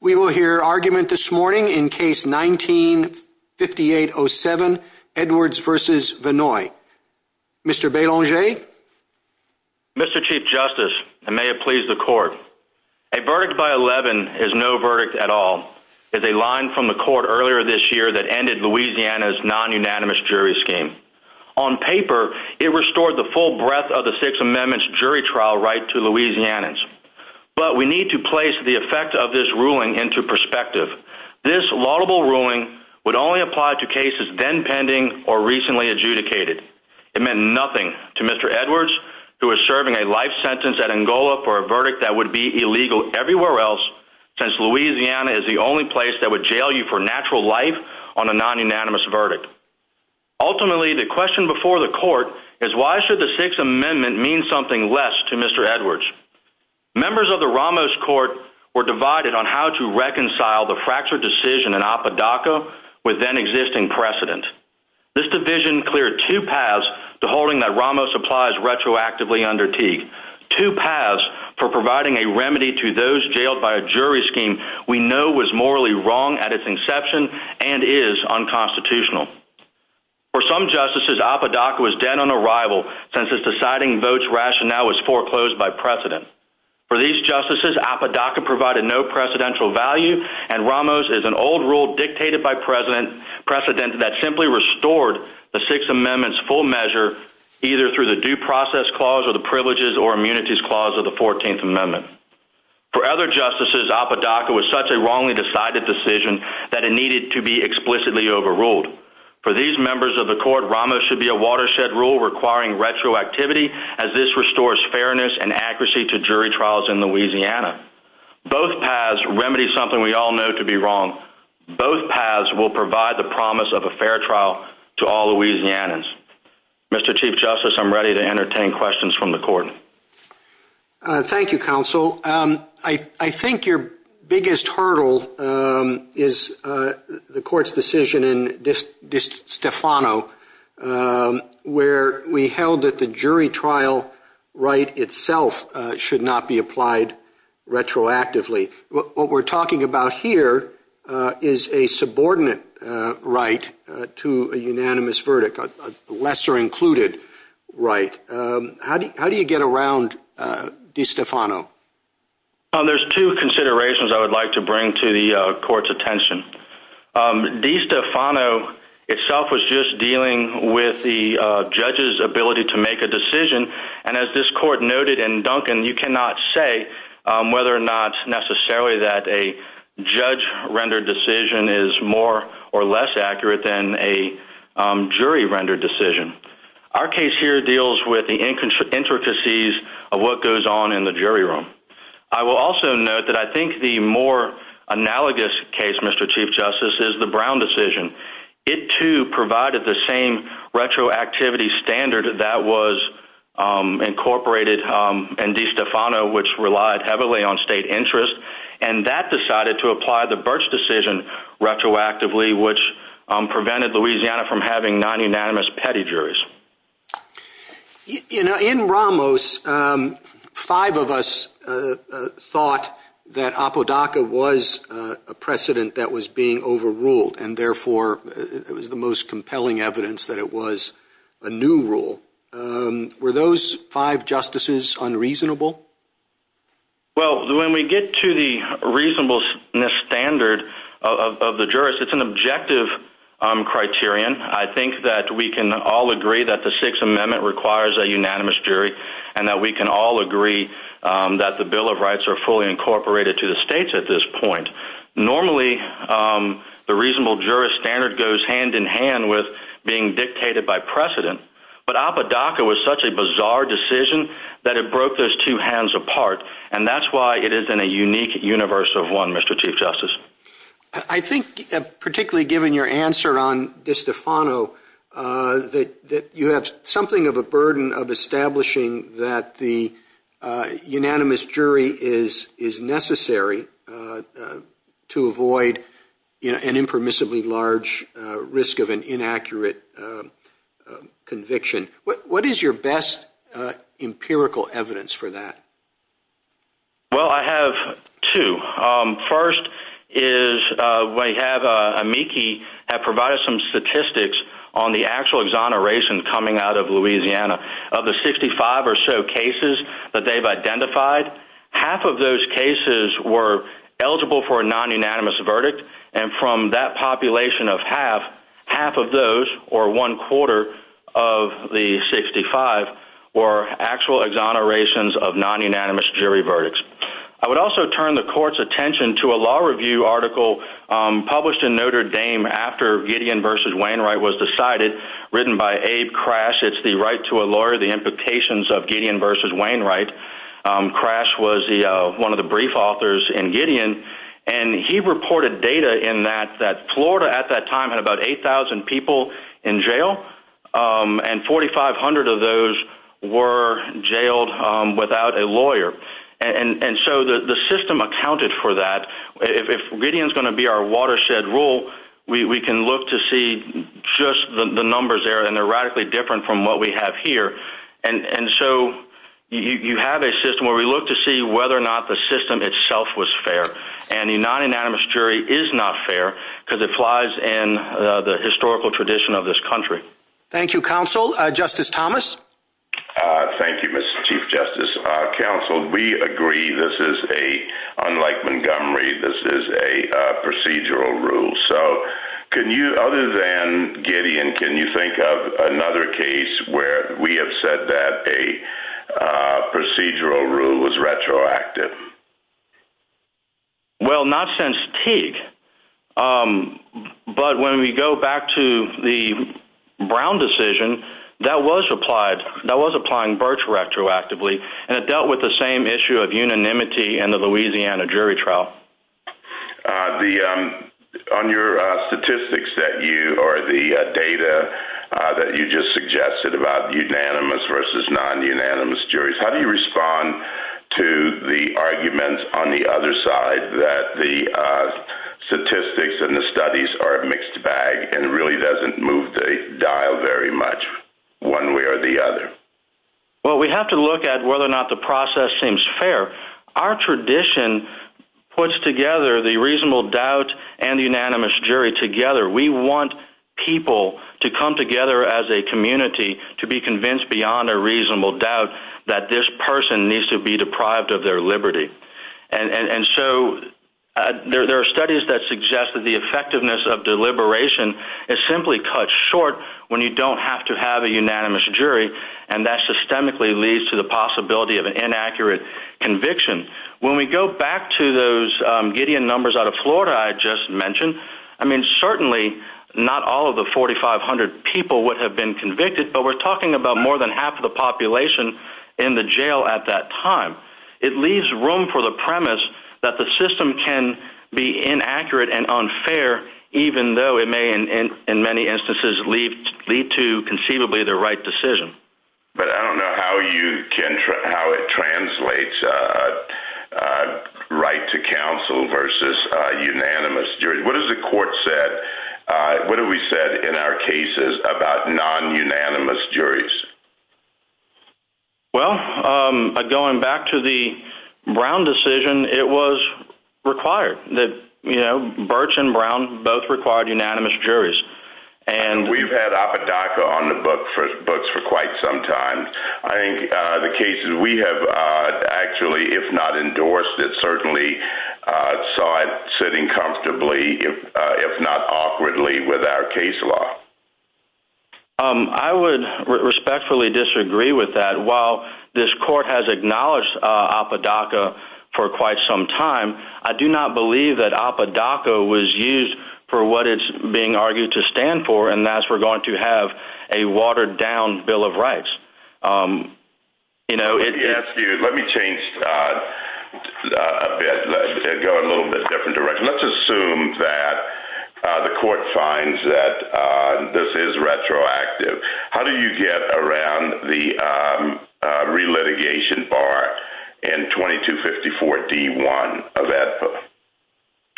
We will hear argument this morning in case 1958-07 Edwards v. Vannoy. Mr. Belanger? Mr. Chief Justice, and may it please the Court, a verdict by 11 is no verdict at all. It's a line from the Court earlier this year that ended Louisiana's non-unanimous jury scheme. On paper, it restored the full breadth of the Sixth Amendment's jury trial right to Louisiana's. But we need to place the effect of this ruling into perspective. This laudable ruling would only apply to cases then pending or recently adjudicated. It meant nothing to Mr. Edwards, who was serving a life sentence at Angola for a verdict that would be illegal everywhere else, since Louisiana is the only place that would jail you for natural life on a non-unanimous verdict. Ultimately, the question before the Court is why should the Sixth Amendment mean something less to Mr. Edwards? Members of the Ramos Court were divided on how to reconcile the fractured decision in Apodaca with then-existing precedent. This division cleared two paths to holding that Ramos applies retroactively under Teague, two paths for providing a remedy to those jailed by a jury scheme we know was morally wrong at its inception and is unconstitutional. For some justices, Apodaca was dead on arrival since its deciding votes rationale was foreclosed by precedent. For these justices, Apodaca provided no precedential value, and Ramos is an old rule dictated by precedent that simply restored the Sixth Amendment's full measure either through the Due Process Clause or the Privileges or Immunities Clause of the 14th Amendment. For other justices, Apodaca was such a wrongly decided decision that it needed to be explicitly overruled. For these members of the Court, Ramos should be a watershed rule requiring retroactivity as this restores fairness and accuracy to jury trials in Louisiana. Both paths remedy something we all know to be wrong. Both paths will provide the promise of a fair trial to all Louisianans. Mr. Chief Justice, I'm ready to entertain questions from the Court. Thank you, Counsel. I think your biggest hurdle is the Court's decision in DiStefano where we held that the jury trial right itself should not be applied retroactively. What we're talking about here is a subordinate right to a unanimous verdict, a lesser included right. How do you get around DiStefano? There's two considerations I would like to bring to the Court's attention. DiStefano itself was just dealing with the judge's ability to make a decision, and as this Court noted in Duncan, you cannot say whether or not necessarily that a judge-rendered decision is more or less accurate than a jury-rendered decision. Our case here deals with the intricacies of what goes on in the jury room. I will also note that I think the more analogous case, Mr. Chief Justice, is the Brown decision. It too provided the same retroactivity standard that was incorporated in DiStefano, which relied heavily on state interest, and that decided to apply the Birch decision retroactively, which prevented Louisiana from having non-unanimous petty juries. In Ramos, five of us thought that Apodaca was a precedent that was being overruled, and therefore it was the most compelling evidence that it was a new rule. Were those five justices unreasonable? Well, when we get to the reasonableness standard of the jurist, it's an objective criterion. I think that we can all agree that the Sixth Amendment requires a unanimous jury, and that we can all agree that the Bill of Rights are fully incorporated to the states at this point. Normally, the reasonable jurist standard goes hand-in-hand with being dictated by precedent, but Apodaca was such a bizarre decision that it broke those two hands apart, and that's why it is in a unique universe of one, Mr. Chief Justice. I think, particularly given your answer on DiStefano, that you have something of a burden of establishing that the unanimous jury is necessary to avoid an impermissibly large risk of an inaccurate conviction. What is your best empirical evidence for that? Well, I have two. First is we have a MIKI that provides some statistics on the actual exoneration coming out of Louisiana. Of the 65 or so cases that they've identified, half of those cases were eligible for a non-unanimous verdict, and from that population of half, half of those, or one-quarter of the 65, were actual exonerations of non-unanimous jury verdicts. I would also turn the Court's attention to a law review article published in Notre Dame after Gideon v. Wainwright was decided, written by Abe Crash. It's the right to a lawyer, the implications of Gideon v. Wainwright. Crash was one of the brief authors in Gideon, and he reported data in that Florida at that time had about 8,000 people in jail, and 4,500 of those were jailed without a lawyer. So the system accounted for that. If Gideon is going to be our watershed rule, we can look to see just the numbers there, and they're radically different from what we have here. And so you have a system where we look to see whether or not the system itself was fair, and a non-unanimous jury is not fair because it flies in the historical tradition of this country. Thank you, Counsel. Justice Thomas? Thank you, Mr. Chief Justice. Counsel, we agree this is a, unlike Montgomery, this is a procedural rule. So other than Gideon, can you think of another case where we have said that a procedural rule was retroactive? Well, not since Teague, but when we go back to the Brown decision, that was applied. That was applying Birch retroactively, and it dealt with the same issue of unanimity in the Louisiana jury trial. On your statistics that you, or the data that you just suggested about unanimous versus non-unanimous juries, how do you respond to the arguments on the other side that the statistics and the studies are a mixed bag and it really doesn't move the dial very much one way or the other? Well, we have to look at whether or not the process seems fair. Our tradition puts together the reasonable doubt and unanimous jury together. We want people to come together as a community to be convinced beyond a reasonable doubt that this person needs to be deprived of their liberty. And so there are studies that suggest that the effectiveness of deliberation is simply cut short when you don't have to have a unanimous jury, and that systemically leads to the possibility of an inaccurate conviction. When we go back to those Gideon numbers out of Florida I just mentioned, I mean certainly not all of the 4,500 people would have been convicted, but we're talking about more than half the population in the jail at that time. It leaves room for the premise that the system can be inaccurate and unfair, even though it may in many instances lead to conceivably the right decision. But I don't know how it translates right to counsel versus unanimous jury. What has the court said? What have we said in our cases about non-unanimous juries? Well, going back to the Brown decision, it was required. Birch and Brown both required unanimous juries. We've had Apodaca on the books for quite some time. I think the cases we have actually, if not endorsed, it certainly saw it sitting comfortably, if not awkwardly, with our case law. I would respectfully disagree with that. While this court has acknowledged Apodaca for quite some time, I do not believe that Apodaca was used for what it's being argued to stand for, and that's we're going to have a watered-down Bill of Rights. Let me change a bit and go a little bit different direction. Let's assume that the court finds that this is retroactive. How do you get around the relitigation bar in 2254 D1 of APO?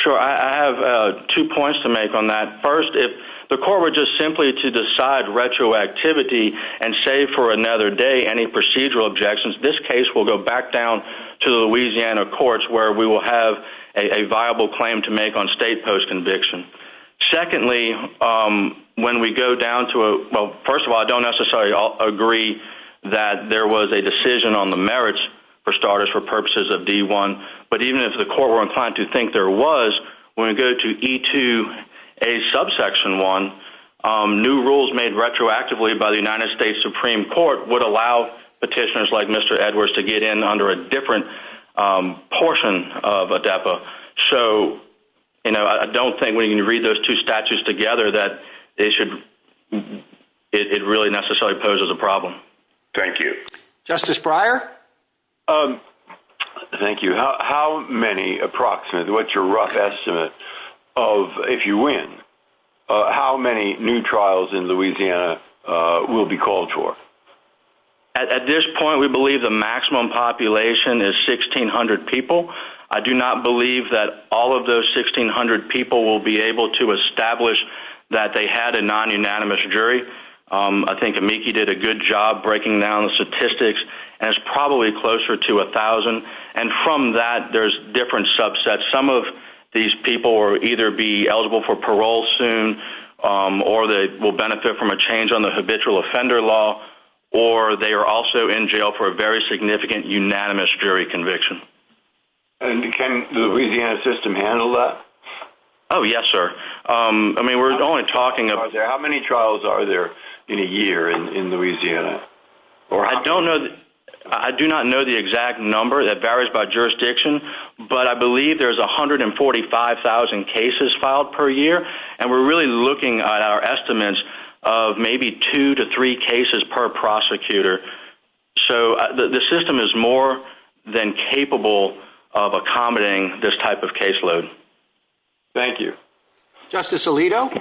I have two points to make on that. First, if the court were just simply to decide retroactivity and save for another day any procedural objections, this case will go back down to the Louisiana courts where we will have a viable claim to make on state post-conviction. Secondly, first of all, I don't necessarily agree that there was a decision on the merits, for starters, for purposes of D1. But even if the court were inclined to think there was, when we go to E2A subsection 1, new rules made retroactively by the United States Supreme Court would allow petitioners like Mr. Edwards to get in under a different portion of ADEPA. So I don't think when you read those two statutes together that it really necessarily poses a problem. Thank you. Justice Breyer? Thank you. How many approximately, what's your rough estimate of if you win, how many new trials in Louisiana will be called for? At this point, we believe the maximum population is 1,600 people. I do not believe that all of those 1,600 people will be able to establish that they had a non-unanimous jury. I think Amiki did a good job breaking down the statistics, and it's probably closer to 1,000. And from that, there's different subsets. Some of these people will either be eligible for parole soon or they will benefit from a change on the habitual offender law, or they are also in jail for a very significant unanimous jury conviction. And can the Louisiana system handle that? Oh, yes, sir. I mean, we're only talking about... How many trials are there in a year in Louisiana? I don't know. I do not know the exact number. That varies by jurisdiction. But I believe there's 145,000 cases filed per year, and we're really looking at our estimates of maybe two to three cases per prosecutor. So the system is more than capable of accommodating this type of caseload. Thank you. Justice Alito?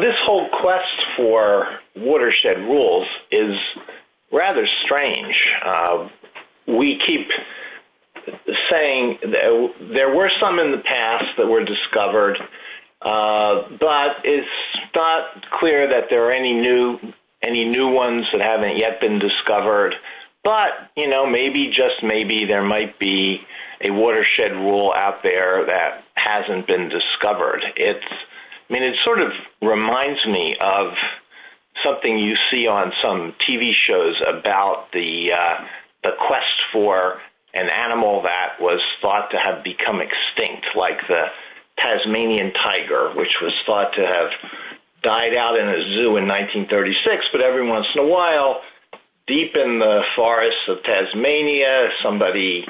This whole quest for watershed rules is rather strange. We keep saying there were some in the past that were discovered, but it's not clear that there are any new ones that haven't yet been discovered. But, you know, maybe, just maybe, there might be a watershed rule out there that hasn't been discovered. I mean, it sort of reminds me of something you see on some TV shows about the quest for an animal that was thought to have become extinct, like the Tasmanian tiger, which was thought to have died out in a zoo in 1936. But every once in a while, deep in the forests of Tasmania, somebody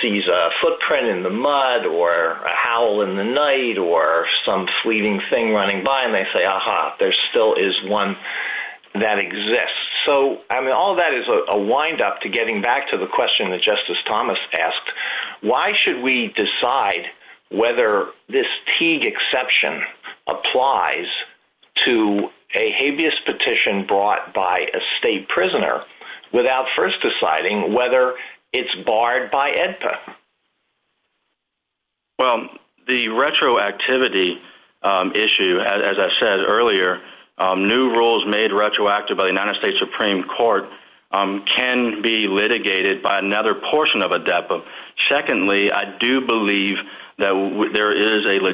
sees a footprint in the mud or a howl in the night or some fleeting thing running by, and they say, aha, there still is one that exists. So, I mean, all that is a wind-up to getting back to the question that Justice Thomas asked. Why should we decide whether this Teague exception applies to a habeas petition brought by a state prisoner without first deciding whether it's barred by AEDPA? Well, the retroactivity issue, as I said earlier, new rules made retroactive by the United States Supreme Court can be litigated by another portion of AEDPA. Secondly, I do believe that there is a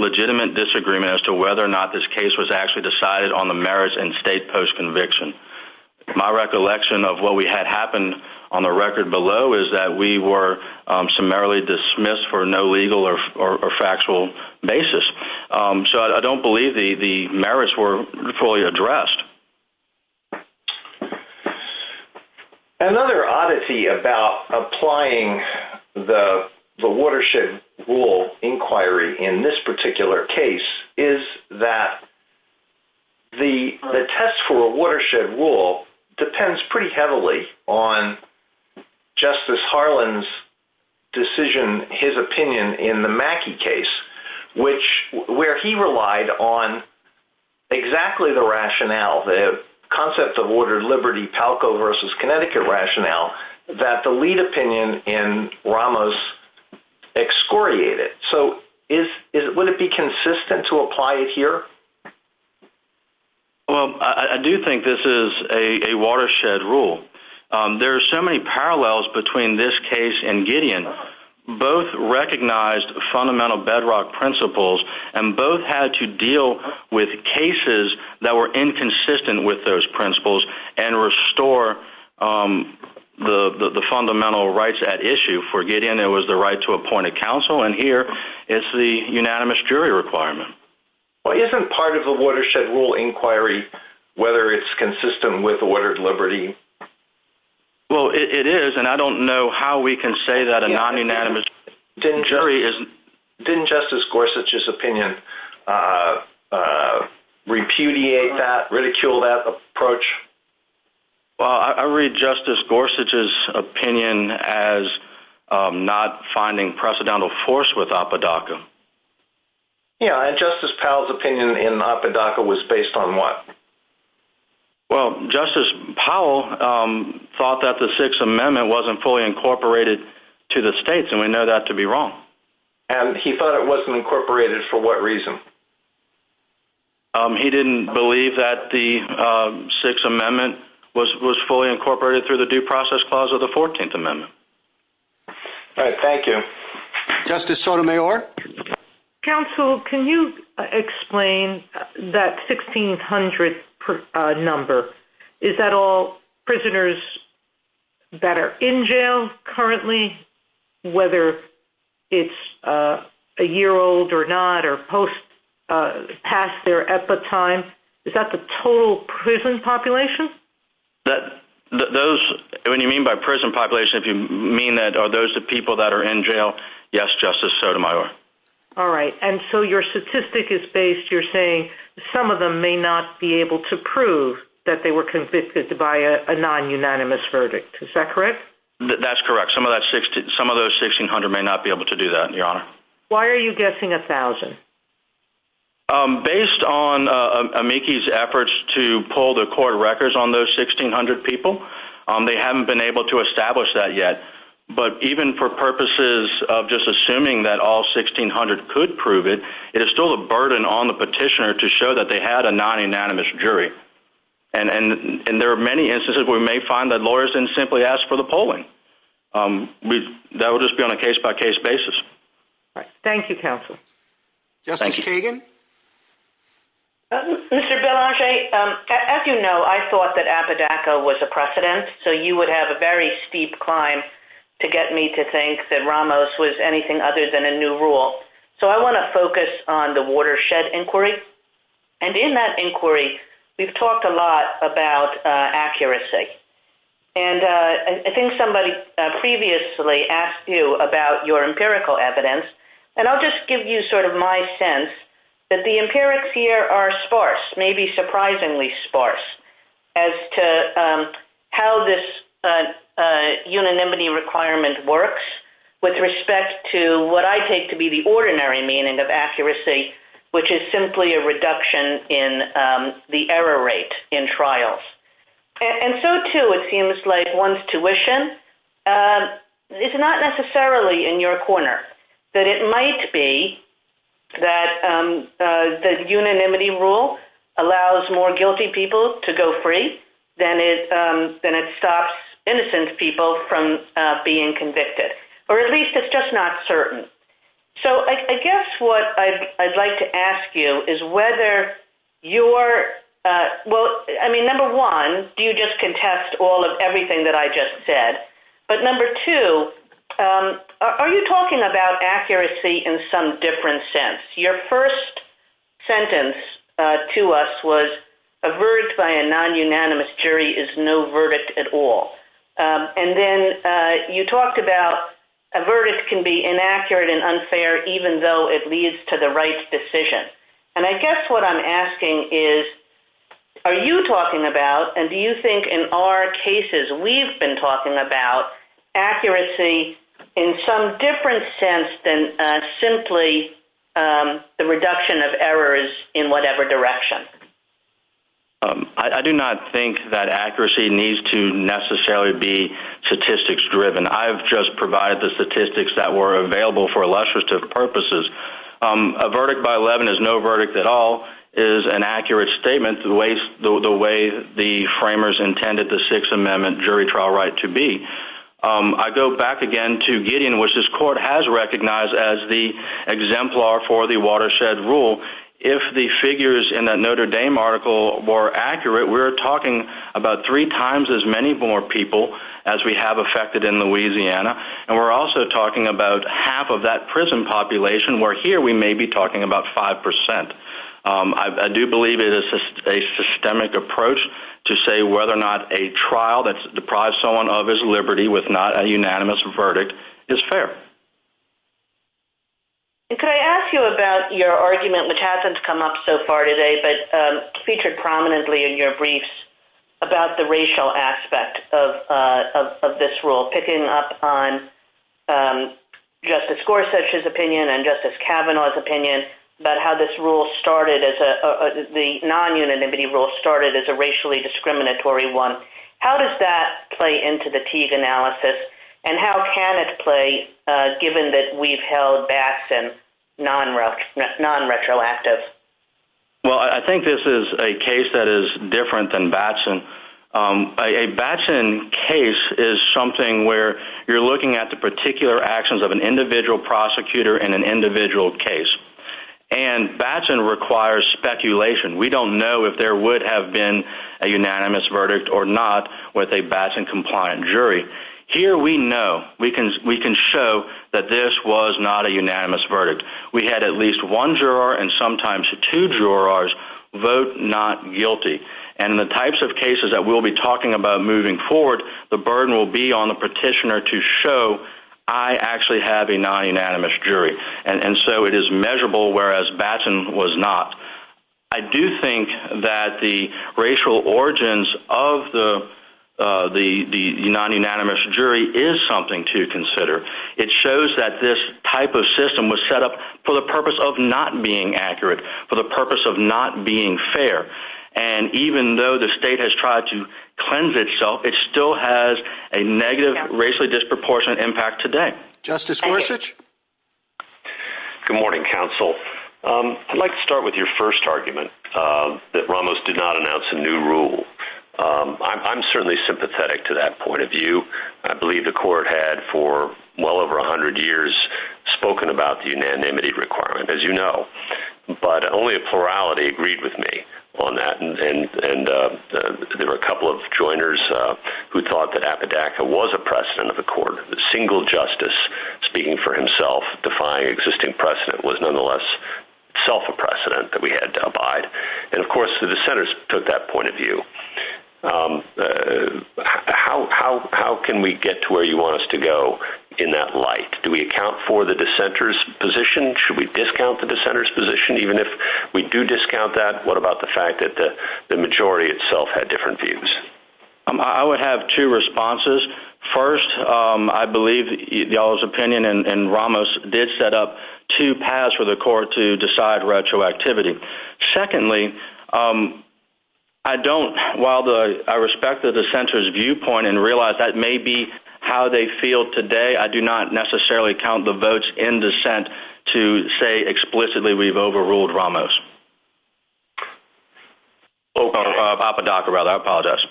legitimate disagreement as to whether or not this case was actually decided on the merits and state post-conviction. My recollection of what had happened on the record below is that we were summarily dismissed for no legal or factual basis. So I don't believe the merits were fully addressed. Another oddity about applying the watershed rule inquiry in this particular case is that the test for a watershed rule depends pretty heavily on Justice Harlan's decision, his opinion in the Mackey case, where he relied on exactly the rationale, the concept of ordered liberty, Palco versus Connecticut rationale, that the lead opinion in Ramos excoriated. So would it be consistent to apply it here? Well, I do think this is a watershed rule. There are so many parallels between this case and Gideon. Both recognized fundamental bedrock principles, and both had to deal with cases that were inconsistent with those principles and restore the fundamental rights at issue. For Gideon, it was the right to appoint a counsel, and here it's the unanimous jury requirement. Well, isn't part of the watershed rule inquiry whether it's consistent with ordered liberty? Well, it is, and I don't know how we can say that a non-unanimous jury isn't. Didn't Justice Gorsuch's opinion repudiate that, ridicule that approach? Well, I read Justice Gorsuch's opinion as not finding precedental force with Apodaca. Yeah, and Justice Powell's opinion in Apodaca was based on what? Well, Justice Powell thought that the Sixth Amendment wasn't fully incorporated to the states, and we know that to be wrong. And he thought it wasn't incorporated for what reason? He didn't believe that the Sixth Amendment was fully incorporated through the due process clause of the Fourteenth Amendment. All right, thank you. Justice Sotomayor? Counsel, can you explain that 1,600 number? Is that all prisoners that are in jail currently, whether it's a year old or not or past their epitime? Is that the total prison population? When you mean by prison population, if you mean that, are those the people that are in jail? Yes, Justice Sotomayor. All right, and so your statistic is based, you're saying, some of them may not be able to prove that they were convicted by a non-unanimous verdict. Is that correct? That's correct. Some of those 1,600 may not be able to do that, Your Honor. Why are you guessing 1,000? Based on AMICI's efforts to pull the court records on those 1,600 people, they haven't been able to establish that yet. But even for purposes of just assuming that all 1,600 could prove it, it is still a burden on the petitioner to show that they had a non-unanimous jury. And there are many instances where we may find that lawyers didn't simply ask for the polling. That would just be on a case-by-case basis. Thank you, counsel. Justice Fagan? Mr. Belanger, as you know, I thought that Apodaca was a precedent, so you would have a very steep climb to get me to think that Ramos was anything other than a new rule. So I want to focus on the watershed inquiry. And in that inquiry, we've talked a lot about accuracy. And I think somebody previously asked you about your empirical evidence, and I'll just give you sort of my sense that the empirics here are sparse, maybe surprisingly sparse, as to how this unanimity requirement works with respect to what I take to be the ordinary meaning of accuracy, which is simply a reduction in the error rate in trials. And so, too, it seems like one's tuition is not necessarily in your corner. That it might be that the unanimity rule allows more guilty people to go free than it stops innocent people from being convicted. Or at least it's just not certain. So I guess what I'd like to ask you is whether you're – well, I mean, number one, do you just contest all of everything that I just said? But number two, are you talking about accuracy in some different sense? Your first sentence to us was a verdict by a non-unanimous jury is no verdict at all. And then you talked about a verdict can be inaccurate and unfair, even though it leads to the right decision. And I guess what I'm asking is, are you talking about, and do you think in our cases we've been talking about, accuracy in some different sense than simply the reduction of errors in whatever direction? I do not think that accuracy needs to necessarily be statistics driven. I've just provided the statistics that were available for illustrative purposes. A verdict by 11 is no verdict at all is an accurate statement. The way the framers intended the Sixth Amendment jury trial right to be. I go back again to Gideon, which this court has recognized as the exemplar for the watershed rule. If the figures in that Notre Dame article were accurate, we're talking about three times as many more people as we have affected in Louisiana. And we're also talking about half of that prison population, where here we may be talking about 5%. I do believe it is a systemic approach to say whether or not a trial that's deprived someone of his liberty with not a unanimous verdict is fair. Could I ask you about your argument, which hasn't come up so far today, but featured prominently in your briefs about the racial aspect of this rule, picking up on Justice Gorsuch's opinion and Justice Kavanaugh's opinion about how the non-unanimity rule started as a racially discriminatory one. How does that play into the Teague analysis, and how can it play given that we've held Batson non-retroactive? Well, I think this is a case that is different than Batson. A Batson case is something where you're looking at the particular actions of an individual prosecutor in an individual case. And Batson requires speculation. We don't know if there would have been a unanimous verdict or not with a Batson-compliant jury. Here we know. We can show that this was not a unanimous verdict. We had at least one juror and sometimes two jurors vote not guilty. And the types of cases that we'll be talking about moving forward, the burden will be on the petitioner to show, I actually have a non-unanimous jury. And so it is measurable, whereas Batson was not. I do think that the racial origins of the non-unanimous jury is something to consider. It shows that this type of system was set up for the purpose of not being accurate, for the purpose of not being fair. And even though the state has tried to cleanse itself, it still has a negative, racially disproportionate impact today. Justice Gorsuch? Good morning, counsel. I'd like to start with your first argument, that Ramos did not announce a new rule. I'm certainly sympathetic to that point of view. I believe the court had for well over 100 years spoken about the unanimity requirement, as you know. But only a plurality agreed with me on that. And there were a couple of joiners who thought that Apodaca was a precedent of the court. The single justice speaking for himself, defying existing precedent, was nonetheless self a precedent that we had to abide. And, of course, the dissenters took that point of view. How can we get to where you want us to go in that light? Do we account for the dissenter's position? Should we discount the dissenter's position, even if we do discount that? What about the fact that the majority itself had different views? I would have two responses. First, I believe y'all's opinion and Ramos' did set up two paths for the court to decide retroactivity. Secondly, I don't, while I respect the dissenter's viewpoint and realize that may be how they feel today, I do not necessarily count the votes in dissent to say explicitly we've overruled Ramos. Apodaca, rather. I apologize.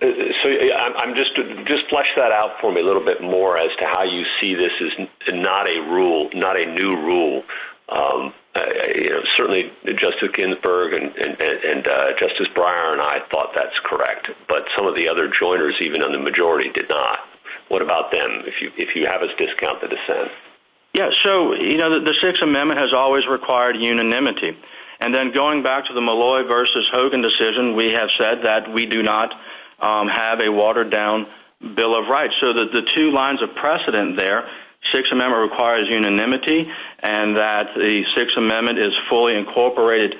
Just flesh that out for me a little bit more as to how you see this is not a rule, not a new rule. Certainly, Justice Ginsburg and Justice Breyer and I thought that's correct. But some of the other joiners, even in the majority, did not. What about them, if you have us discount the dissent? Yes. So, you know, the Sixth Amendment has always required unanimity. And then going back to the Malloy versus Hogan decision, we have said that we do not have a watered-down bill of rights. So the two lines of precedent there, Sixth Amendment requires unanimity, and that the Sixth Amendment is fully incorporated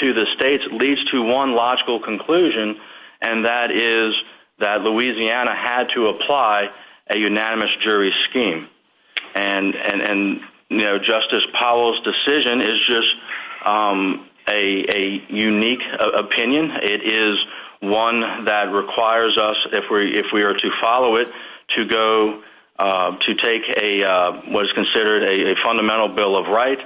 to the states leads to one logical conclusion, and that is that Louisiana had to apply a unanimous jury scheme. And, you know, Justice Powell's decision is just a unique opinion. It is one that requires us, if we are to follow it, to go to take what is considered a fundamental bill of rights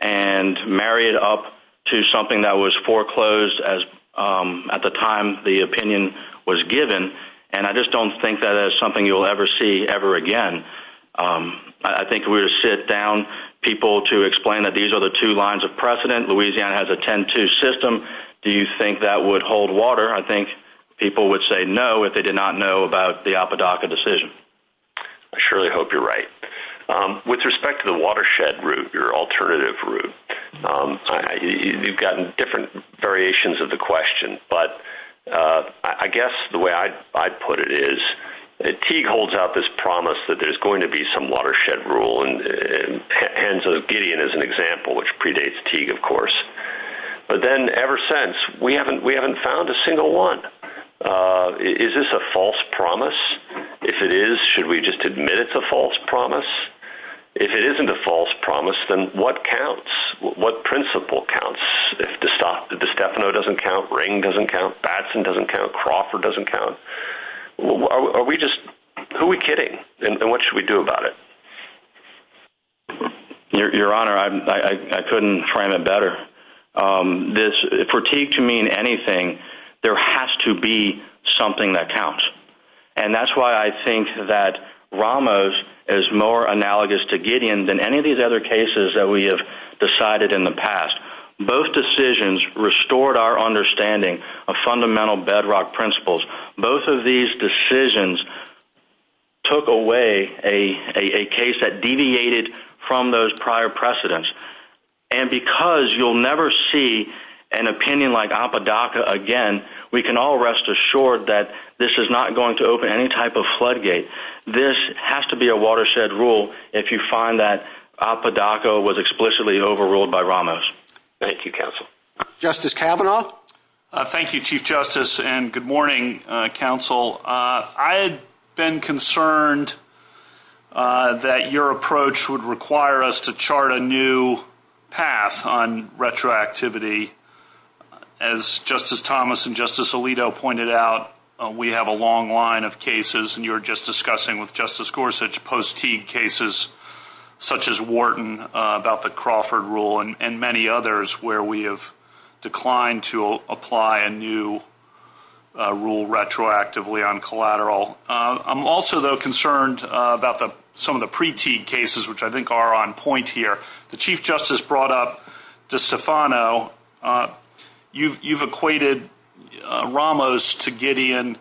and marry it up to something that was foreclosed at the time the opinion was given. And I just don't think that is something you will ever see ever again. I think we would sit down people to explain that these are the two lines of precedent. Louisiana has a 10-2 system. Do you think that would hold water? I think people would say no if they did not know about the Apodaca decision. I surely hope you're right. With respect to the watershed route, your alternative route, you've gotten different variations of the question, but I guess the way I'd put it is that Teague holds out this promise that there's going to be some watershed rule, and so Gideon is an example, which predates Teague, of course. But then ever since, we haven't found a single one. Is this a false promise? If it is, should we just admit it's a false promise? If it isn't a false promise, then what counts? What principle counts if DeStefano doesn't count, Ring doesn't count, Batson doesn't count, Crawford doesn't count? Who are we kidding, and what should we do about it? Your Honor, I couldn't find it better. For Teague to mean anything, there has to be something that counts, and that's why I think that Ramos is more analogous to Gideon than any of these other cases that we have decided in the past. Both decisions restored our understanding of fundamental bedrock principles. Both of these decisions took away a case that deviated from those prior precedents, and because you'll never see an opinion like Apodaca again, we can all rest assured that this is not going to open any type of floodgate. This has to be a watershed rule if you find that Apodaca was explicitly overruled by Ramos. Thank you, Counsel. Justice Kavanaugh? Thank you, Chief Justice, and good morning, Counsel. I had been concerned that your approach would require us to chart a new path on retroactivity. As Justice Thomas and Justice Alito pointed out, we have a long line of cases, and you were just discussing with Justice Gorsuch post-Teague cases such as Wharton about the Crawford rule and many others where we have declined to apply a new rule retroactively on collateral. I'm also, though, concerned about some of the pre-Teague cases, which I think are on point here. The Chief Justice brought up DiStefano. You've equated Ramos to Gideon.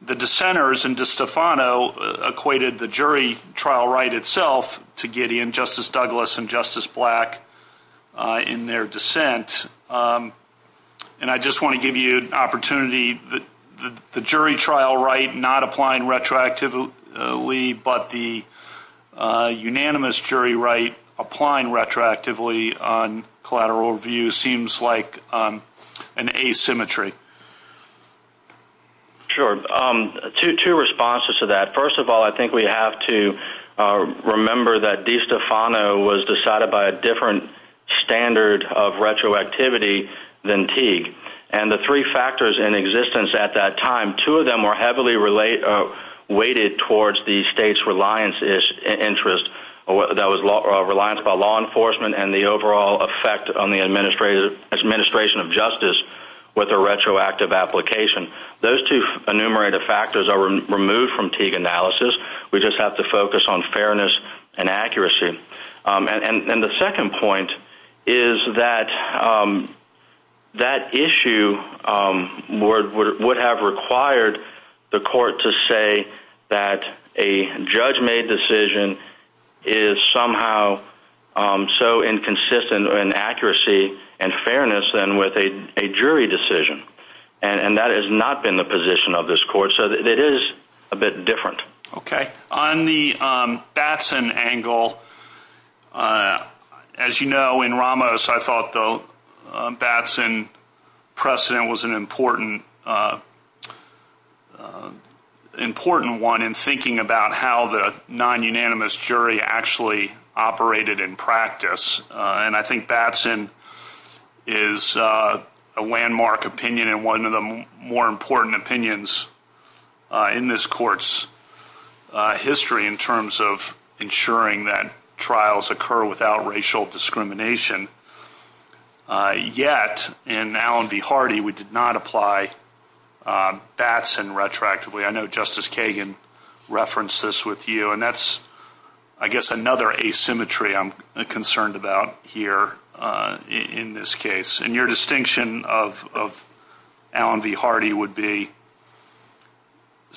The dissenters in DiStefano equated the jury trial right itself to Gideon, Justice Douglas and Justice Black in their dissent. I just want to give you an opportunity. The jury trial right not applying retroactively, but the unanimous jury right applying retroactively on collateral review seems like an asymmetry. Sure. Two responses to that. First of all, I think we have to remember that DiStefano was decided by a different standard of retroactivity than Teague. The three factors in existence at that time, two of them were heavily weighted towards the state's reliance interest. That was reliance on law enforcement and the overall effect on the administration of justice with a retroactive application. Those two enumerated factors are removed from Teague analysis. We just have to focus on fairness and accuracy. The second point is that that issue would have required the court to say that a judge-made decision is somehow so inconsistent in accuracy and fairness than with a jury decision. That has not been the position of this court. It is a bit different. Okay. On the Batson angle, as you know, in Ramos, I thought the Batson precedent was an important one in thinking about how the nonunanimous jury actually operated in practice. I think Batson is a landmark opinion and one of the more important opinions in this court's history in terms of ensuring that trials occur without racial discrimination. Yet, in Allen v. Hardy, we did not apply Batson retroactively. I know Justice Kagan referenced this with you. That's another asymmetry I'm concerned about here in this case. Your distinction of Allen v. Hardy would be?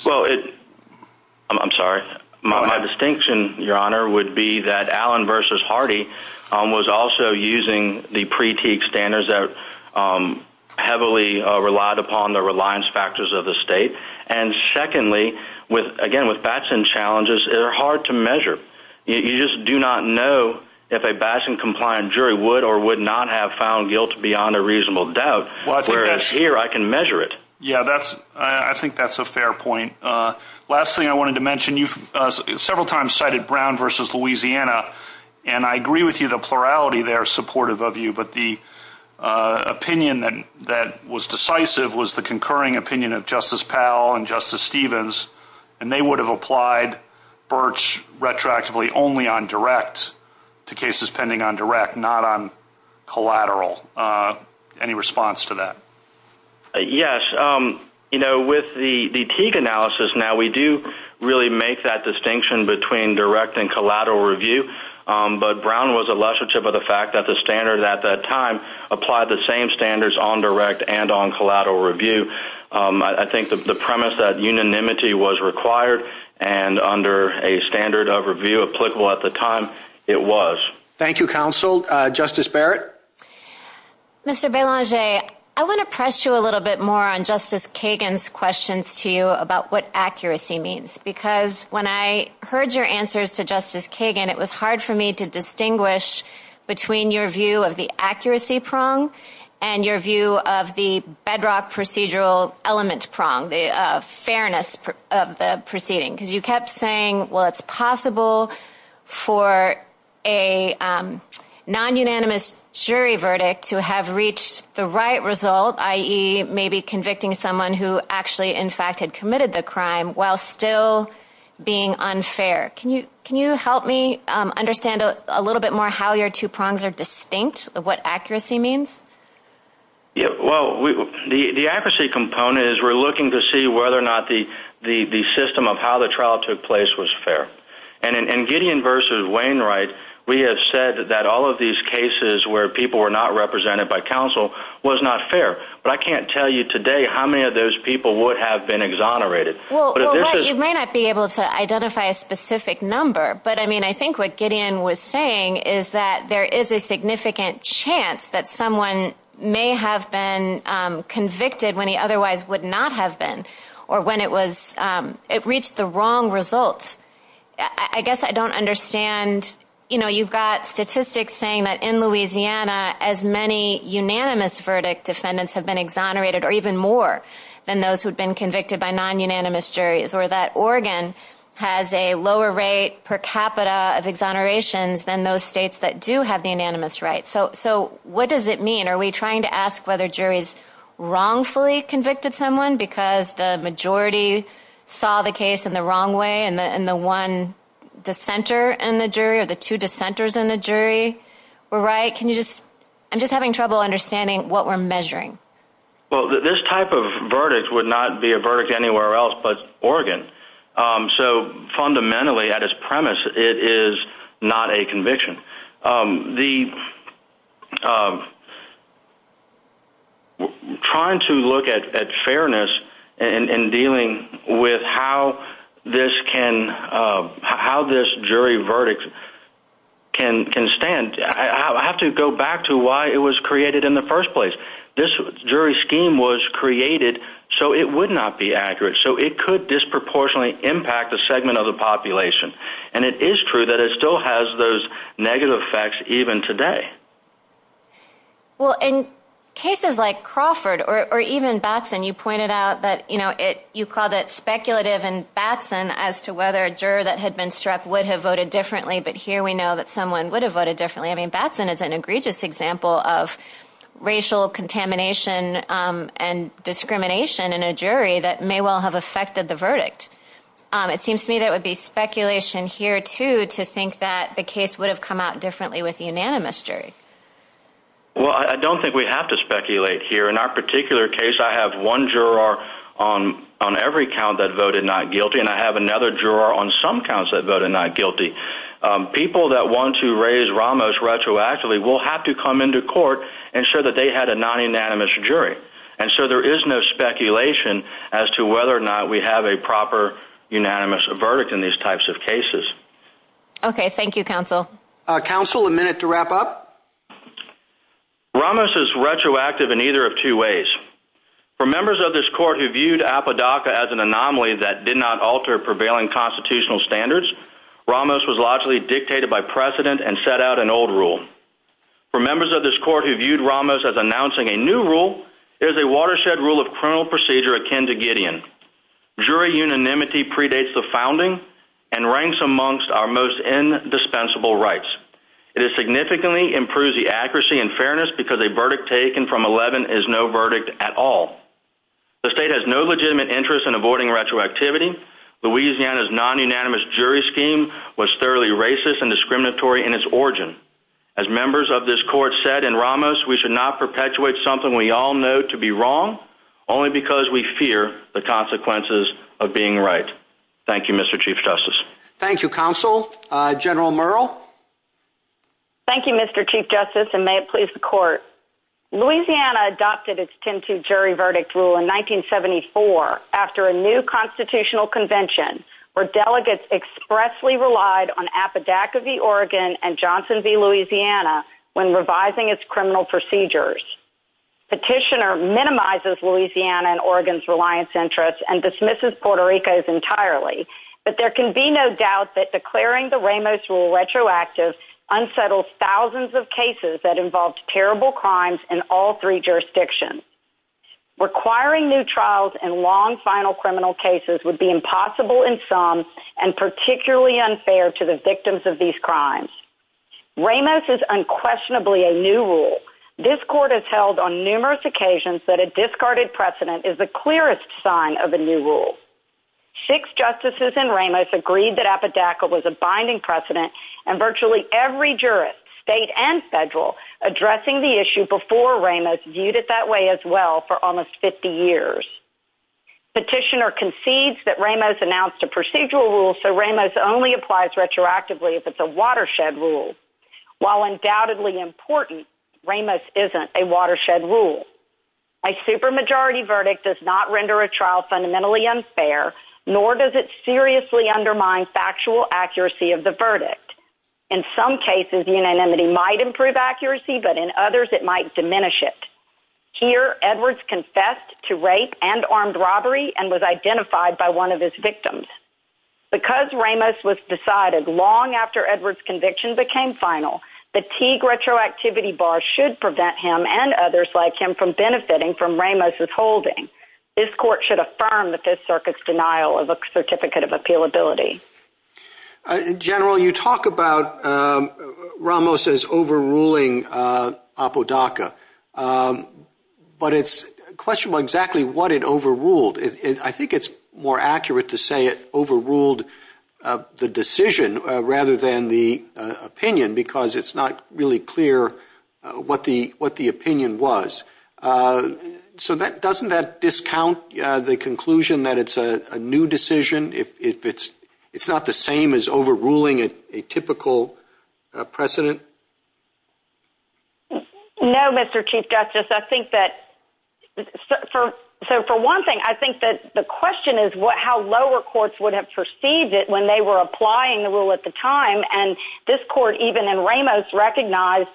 I'm sorry. My distinction, Your Honor, would be that Allen v. Hardy was also using the pre-Teague standards that heavily relied upon the reliance factors of the state. Secondly, again, with Batson challenges, they're hard to measure. You just do not know if a Batson-compliant jury would or would not have found guilt beyond a reasonable doubt. If that's here, I can measure it. I think that's a fair point. Last thing I wanted to mention, you several times cited Brown v. Louisiana, and I agree with you, the plurality there is supportive of you, but the opinion that was decisive was the concurring opinion of Justice Powell and Justice Stevens, and they would have applied Birch retroactively only on direct to cases pending on direct, not on collateral. Any response to that? Yes. You know, with the Teague analysis now, we do really make that distinction between direct and collateral review, but Brown was illustrative of the fact that the standard at that time applied the same standards on direct and on collateral review. I think the premise that unanimity was required and under a standard of review applicable at the time, it was. Thank you, counsel. Justice Barrett? Mr. Belanger, I want to press you a little bit more on Justice Kagan's questions to you about what accuracy means, because when I heard your answers to Justice Kagan, it was hard for me to distinguish between your view of the accuracy prong and your view of the bedrock procedural element prong, the fairness of the proceeding, because you kept saying, well, it's possible for a non-unanimous jury verdict to have reached the right result, i.e., maybe convicting someone who actually, in fact, had committed the crime while still being unfair. Can you help me understand a little bit more how your two prongs are distinct, what accuracy means? Well, the accuracy component is we're looking to see whether or not the system of how the trial took place was fair. And in Gideon v. Wainwright, we have said that all of these cases where people were not represented by counsel was not fair. But I can't tell you today how many of those people would have been exonerated. Well, right, you might not be able to identify a specific number, but, I mean, I think what Gideon was saying is that there is a significant chance that someone may have been convicted when he otherwise would not have been or when it reached the wrong results. I guess I don't understand. You know, you've got statistics saying that in Louisiana, as many unanimous verdict defendants have been exonerated or even more than those who have been convicted by non-unanimous juries, or that Oregon has a lower rate per capita of exonerations than those states that do have the unanimous right. So what does it mean? Are we trying to ask whether juries wrongfully convicted someone because the majority saw the case in the wrong way and the one dissenter in the jury or the two dissenters in the jury were right? I'm just having trouble understanding what we're measuring. Well, this type of verdict would not be a verdict anywhere else but Oregon. So fundamentally, at its premise, it is not a conviction. Trying to look at fairness and dealing with how this jury verdict can stand, and I have to go back to why it was created in the first place. This jury scheme was created so it would not be accurate, so it could disproportionately impact a segment of the population. And it is true that it still has those negative effects even today. Well, in cases like Crawford or even Batson, you pointed out that you called it speculative and Batson as to whether a juror that had been struck would have voted differently, but here we know that someone would have voted differently. I mean, Batson is an egregious example of racial contamination and discrimination in a jury that may well have affected the verdict. It seems to me that it would be speculation here, too, to think that the case would have come out differently with unanimous jury. Well, I don't think we have to speculate here. In our particular case, I have one juror on every count that voted not guilty, and I have another juror on some counts that voted not guilty. People that want to raise Ramos retroactively will have to come into court and show that they had a non-unanimous jury. And so there is no speculation as to whether or not we have a proper unanimous verdict in these types of cases. Okay. Thank you, Counsel. Counsel, a minute to wrap up? Ramos is retroactive in either of two ways. For members of this court who viewed Apodaca as an anomaly that did not alter prevailing constitutional standards, Ramos was logically dictated by precedent and set out an old rule. For members of this court who viewed Ramos as announcing a new rule, it is a watershed rule of criminal procedure akin to Gideon. Jury unanimity predates the founding and ranks amongst our most indispensable rights. It has significantly improved the accuracy and fairness because a verdict taken from 11 is no verdict at all. The state has no legitimate interest in avoiding retroactivity. Louisiana's non-unanimous jury scheme was thoroughly racist and discriminatory in its origin. As members of this court said in Ramos, we should not perpetuate something we all know to be wrong only because we fear the consequences of being right. Thank you, Mr. Chief Justice. Thank you, Counsel. General Merrill? Thank you, Mr. Chief Justice, and may it please the Court. Louisiana adopted its 10-2 jury verdict rule in 1974 after a new constitutional convention where delegates expressly relied on Apodaca v. Oregon and Johnson v. Louisiana when revising its criminal procedures. Petitioner minimizes Louisiana and Oregon's reliance interests and dismisses Puerto Rico's entirely, but there can be no doubt that declaring the Ramos rule retroactive unsettles thousands of cases that involved terrible crimes in all three jurisdictions. Requiring new trials and long final criminal cases would be impossible in some and particularly unfair to the victims of these crimes. Ramos is unquestionably a new rule. This Court has held on numerous occasions that a discarded precedent is the clearest sign of a new rule. Six justices in Ramos agreed that Apodaca was a binding precedent and virtually every jurist, state and federal, addressing the issue before Ramos viewed it that way as well for almost 50 years. Petitioner concedes that Ramos announced a procedural rule so Ramos only applies retroactively if it's a watershed rule. While undoubtedly important, Ramos isn't a watershed rule. A supermajority verdict does not render a trial fundamentally unfair nor does it seriously undermine factual accuracy of the verdict. In some cases, unanimity might improve accuracy, but in others it might diminish it. Here Edwards confessed to rape and armed robbery and was identified by one of his victims. Because Ramos was decided long after Edwards' conviction became final, a Teague retroactivity bar should prevent him and others like him from benefiting from Ramos' holding. This Court should affirm the Fifth Circuit's denial of a certificate of appealability. General, you talk about Ramos as overruling Apodaca, but it's questionable exactly what it overruled. I think it's more accurate to say it overruled the decision rather than the opinion because it's not really clear what the opinion was. Doesn't that discount the conclusion that it's a new decision? It's not the same as overruling a typical precedent? No, Mr. Chief Justice. For one thing, I think the question is how lower courts would have perceived it when they were applying the rule at the time, and this Court, even in Ramos, recognized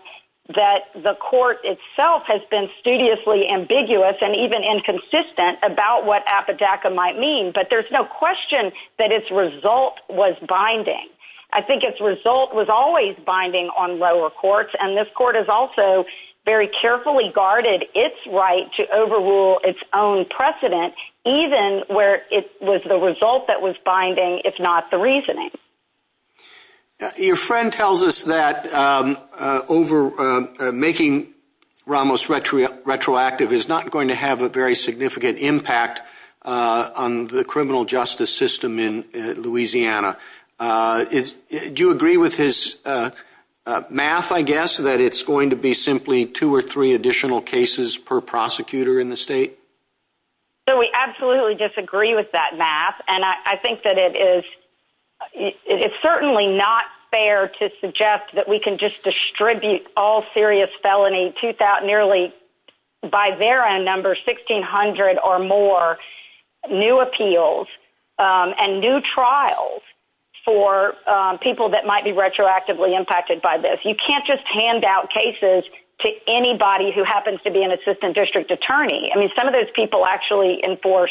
that the Court itself has been studiously ambiguous and even inconsistent about what Apodaca might mean, but there's no question that its result was binding. I think its result was always binding on lower courts, and this Court has also very carefully guarded its right to overrule its own precedent, even where it was the result that was binding, if not the reasoning. Your friend tells us that making Ramos retroactive is not going to have a very significant impact on the criminal justice system in Louisiana. Do you agree with his math, I guess, that it's going to be simply two or three additional cases per prosecutor in the state? We absolutely disagree with that math, and I think that it is certainly not fair to suggest that we can just distribute all serious felony, nearly by their end number, 1,600 or more, new appeals and new trials for people that might be retroactively impacted by this. You can't just hand out cases to anybody who happens to be an assistant district attorney. Some of those people actually enforce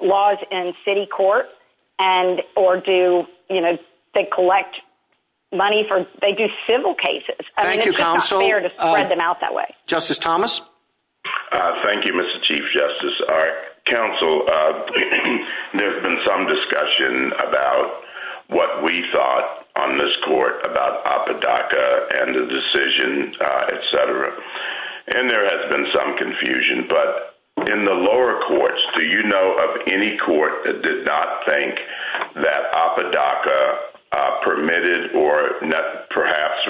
laws in city court, or they collect money for—they do civil cases. Thank you, counsel. It's just not fair to spread them out that way. Justice Thomas? Thank you, Mr. Chief Justice. Counsel, there's been some discussion about what we thought on this Court about Apodaca and the decision, et cetera, and there has been some confusion, but in the lower courts, do you know of any court that did not think that Apodaca permitted or perhaps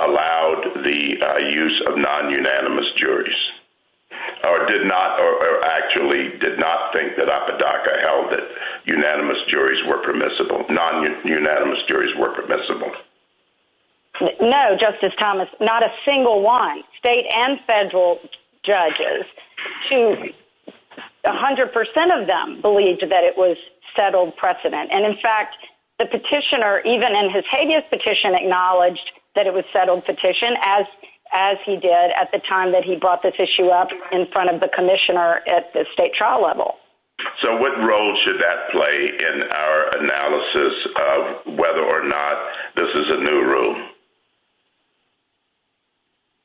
allowed the use of non-unanimous juries, or actually did not think that Apodaca held that non-unanimous juries were permissible? No, Justice Thomas, not a single one. State and federal judges, 100 percent of them believed that it was settled precedent. And, in fact, the petitioner, even in his habeas petition, acknowledged that it was a settled petition, as he did at the time that he brought this issue up in front of the commissioner at the state trial level. So what role should that play in our analysis of whether or not this is a new rule?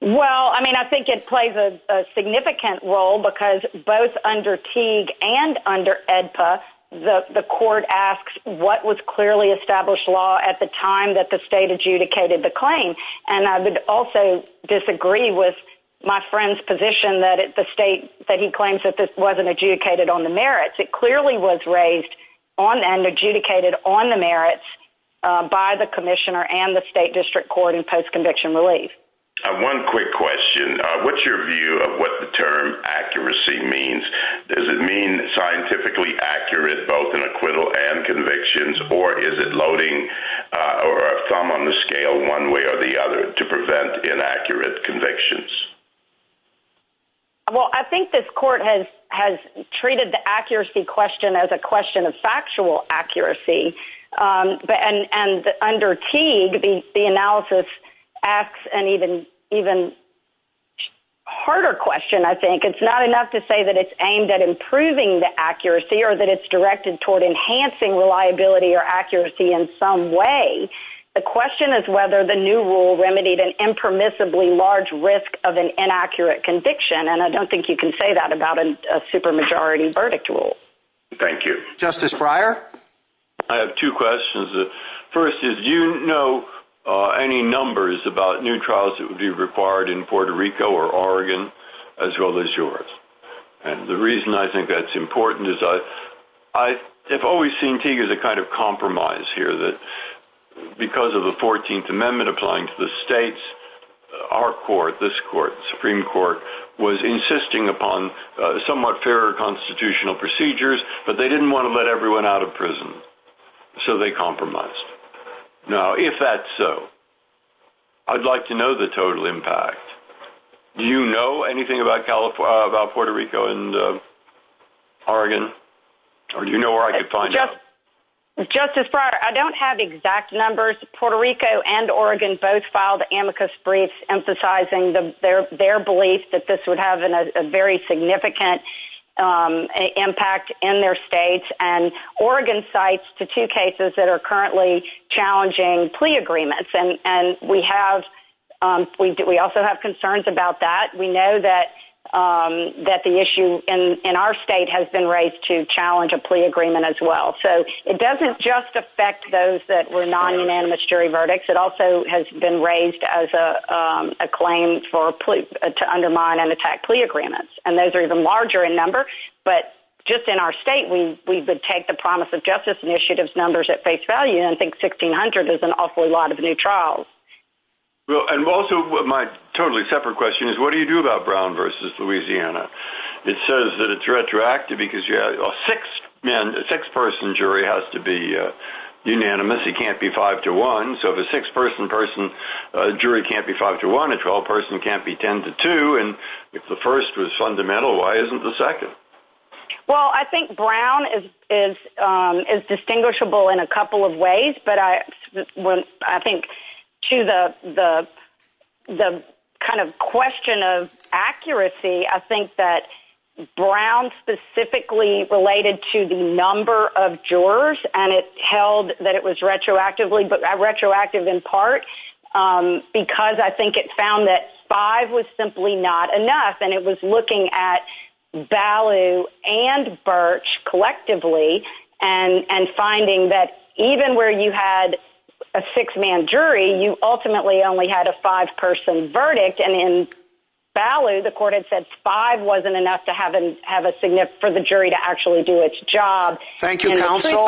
Well, I mean, I think it plays a significant role, because both under Teague and under AEDPA, the Court asks what was clearly established law at the time that the state adjudicated the claim. And I would also disagree with my friend's position that the state, that he claims that this wasn't adjudicated on the merits. It clearly was raised on and adjudicated on the merits by the commissioner and the state district court in post-conviction relief. One quick question. What's your view of what the term accuracy means? Does it mean scientifically accurate, both in acquittal and convictions, or is it loading over a thumb on the scale one way or the other to prevent inaccurate convictions? Well, I think this Court has treated the accuracy question as a question of factual accuracy. And under Teague, the analysis asks an even harder question, I think. It's not enough to say that it's aimed at improving the accuracy or that it's directed toward enhancing reliability or accuracy in some way. The question is whether the new rule remedied an impermissibly large risk of an inaccurate conviction, and I don't think you can say that about a supermajority verdict rule. Thank you. Justice Breyer? I have two questions. The first is, do you know any numbers about new trials that would be required in Puerto Rico or Oregon as well as yours? And the reason I think that's important is I've always seen Teague as a kind of compromise here, that because of the 14th Amendment applying to the states, our Court, this Supreme Court, was insisting upon somewhat fairer constitutional procedures, but they didn't want to let everyone out of prison, so they compromised. Now, if that's so, I'd like to know the total impact. Do you know anything about Puerto Rico and Oregon, or do you know where I could find it? Justice Breyer, I don't have exact numbers. Puerto Rico and Oregon both filed amicus briefs emphasizing their belief that this would have a very significant impact in their states, and Oregon cites the two cases that are currently challenging plea agreements, and we also have concerns about that. We know that the issue in our state has been raised to challenge a plea agreement as well. So it doesn't just affect those that were non-humanitarian verdicts. It also has been raised as a claim to undermine and attack plea agreements, and those are even larger in number. But just in our state, we would take the Promise of Justice Initiative's numbers at face value, and I think 1,600 is an awful lot of new trials. And also, my totally separate question is, what do you do about Brown v. Louisiana? It says that it's retroactive because a six-person jury has to be unanimous. It can't be five to one. So if a six-person jury can't be five to one, a 12-person can't be ten to two, and if the first was fundamental, why isn't the second? Well, I think Brown is distinguishable in a couple of ways, but I think to the kind of question of accuracy, I think that Brown specifically related to the number of jurors and it held that it was retroactive in part because I think it found that five was simply not enough, and it was looking at Ballew and Birch collectively and finding that even where you had a six-man jury, you ultimately only had a five-person verdict, and in Ballew, the court had said five wasn't enough for the jury to actually do its job. Thank you, counsel.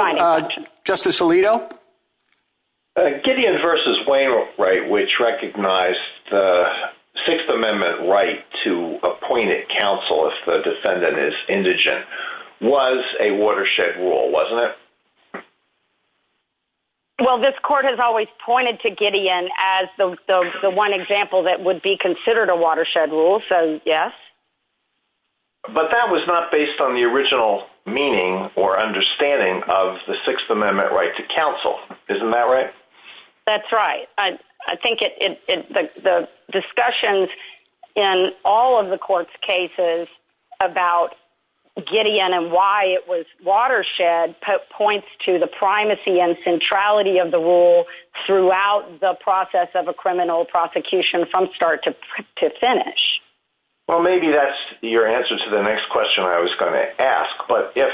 Justice Alito? Gideon v. Wainwright, which recognized the Sixth Amendment right to appoint a counsel if the defendant is indigent, was a watershed rule, wasn't it? Well, this court has always pointed to Gideon as the one example that would be considered a watershed rule, so yes. But that was not based on the original meaning or understanding of the Sixth Amendment right to counsel. Isn't that right? That's right. I think the discussions in all of the court's cases about Gideon and why it was watershed points to the primacy and centrality of the rule throughout the process of a criminal prosecution from start to finish. Well, maybe that's your answer to the next question I was going to ask, but if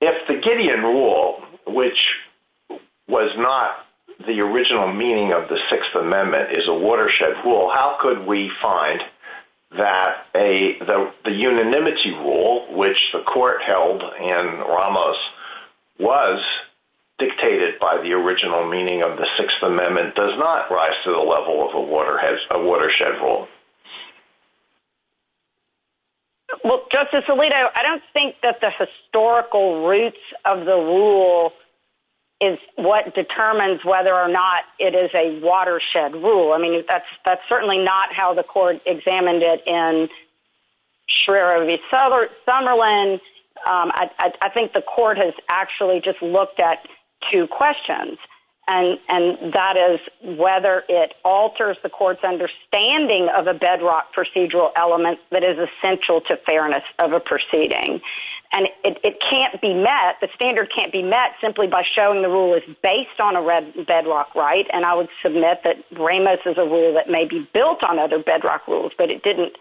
the Gideon rule, which was not the original meaning of the Sixth Amendment, is a watershed rule, how could we find that the unanimity rule, which the court held in Ramos, was dictated by the original meaning of the Sixth Amendment, does not rise to the level of a watershed rule? Well, Justice Alito, I don't think that the historical roots of the rule is what determines whether or not it is a watershed rule. I mean, that's certainly not how the court examined it in Schreyer v. Summerlin. I think the court has actually just looked at two questions, and that is whether it alters the court's understanding of a bedrock procedural element that is essential to fairness of a proceeding. And it can't be met, the standard can't be met, simply by showing the rule is based on a bedrock right, and I would submit that Ramos is a rule that may be built on other bedrock rules, but it didn't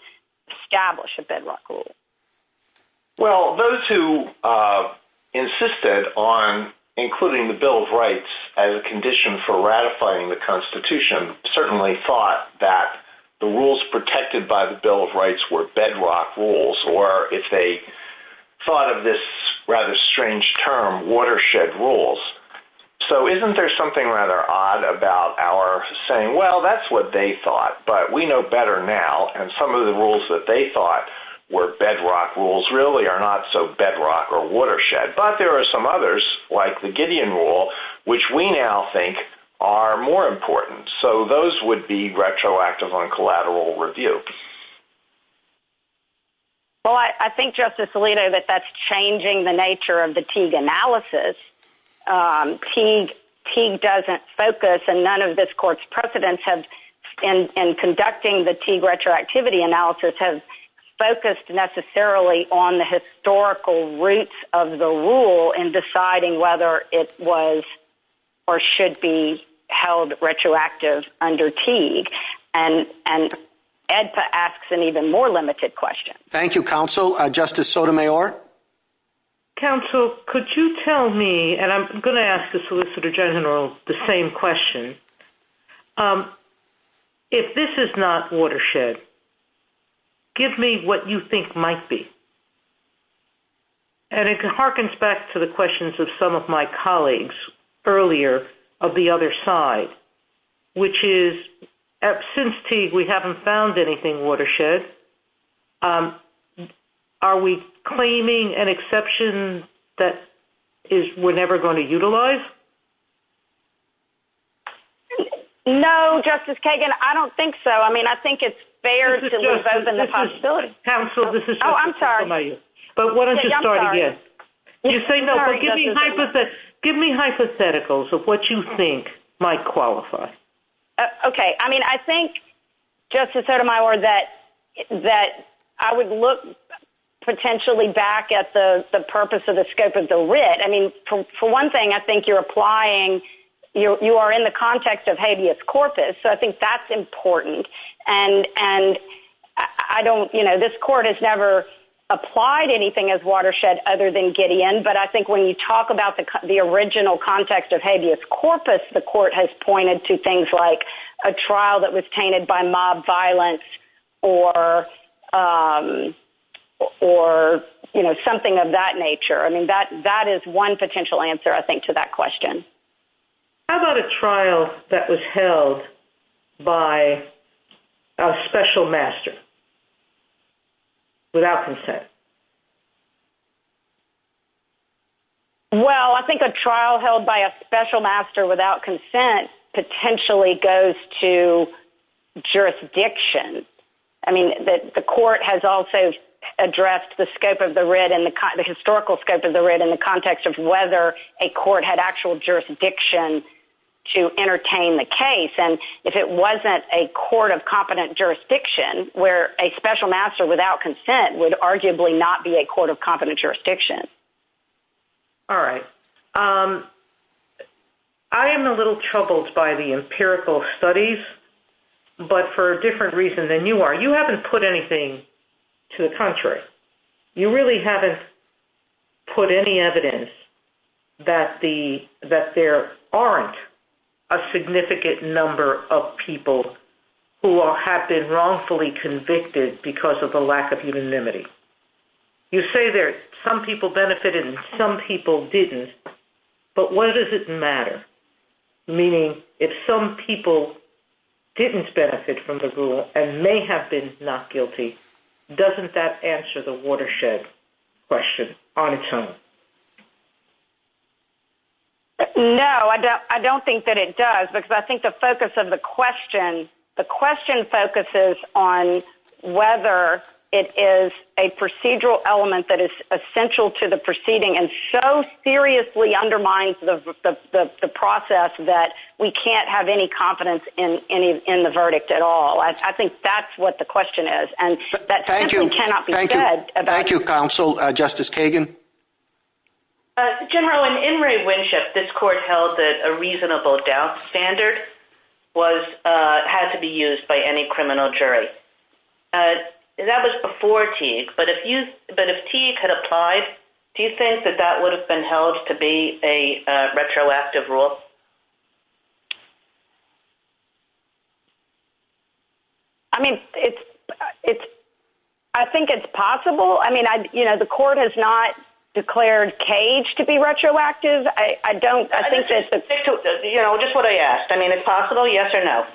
establish a bedrock rule. Well, those who insisted on including the Bill of Rights as a condition for ratifying the Constitution certainly thought that the rules protected by the Bill of Rights were bedrock rules, or if they thought of this rather strange term, watershed rules. So isn't there something rather odd about our saying, well, that's what they thought, but we know better now, and some of the rules that they thought were bedrock rules really are not so bedrock or watershed. But there are some others, like the Gideon Rule, which we now think are more important. So those would be retroactive on collateral review. Well, I think, Justice Alito, that that's changing the nature of the Teague analysis. Teague doesn't focus, and none of this Court's precedents in conducting the Teague retroactivity analysis have focused necessarily on the historical roots of the rule in deciding whether it was or should be held retroactive under Teague. And EDPA asks an even more limited question. Thank you, Counsel. Justice Sotomayor? Counsel, could you tell me, and I'm going to ask the Solicitor General the same question. If this is not watershed, give me what you think might be. And it harkens back to the questions of some of my colleagues earlier of the other side, which is, since Teague we haven't found anything watershed, are we claiming an exception that we're never going to utilize? No, Justice Kagan, I don't think so. I mean, I think it's fair to move over the possibility. Counsel, this is Justice Sotomayor. Oh, I'm sorry. But why don't you start again? I'm sorry. Give me hypotheticals of what you think might qualify. Okay. I mean, I think, Justice Sotomayor, that I would look potentially back at the purpose of the scope of the writ. I mean, for one thing, I think you're applying, you are in the context of habeas corpus, so I think that's important. And I don't, you know, this Court has never applied anything as watershed other than Gideon, but I think when you talk about the original context of habeas corpus, the Court has pointed to things like a trial that was tainted by mob violence or, you know, something of that nature. I mean, that is one potential answer, I think, to that question. How about a trial that was held by a special master without consent? Well, I think a trial held by a special master without consent potentially goes to jurisdiction. I mean, the Court has also addressed the scope of the writ and the historical scope of the writ in the context of whether a court had actual jurisdiction to entertain the case. And if it wasn't a court of competent jurisdiction where a special master without consent would arguably not be a court of competent jurisdiction. All right. I am a little troubled by the empirical studies, but for a different reason than you are. You haven't put anything to the contrary. You really haven't put any evidence that there aren't a significant number of people who have been wrongfully convicted because of the lack of unanimity. You say that some people benefited and some people didn't, but why does it matter? Meaning, if some people didn't benefit from the rule and may have been not guilty, doesn't that answer the watershed question on its own? No, I don't think that it does because I think the focus of the question, the question focuses on whether it is a procedural element that is essential to the proceeding and so seriously undermines the process that we can't have any competence in the verdict at all. I think that's what the question is, and that simply cannot be said. Thank you, Counsel. Justice Kagan? General, in In re Winship, this Court held that a reasonable doubt standard had to be used by any criminal jury. That was before Teague, but if Teague had applied, do you think that that would have been held to be a retroactive rule? I mean, I think it's possible. I mean, you know, the Court has not declared Cage to be retroactive. Just what I asked. I mean, it's possible, yes or no?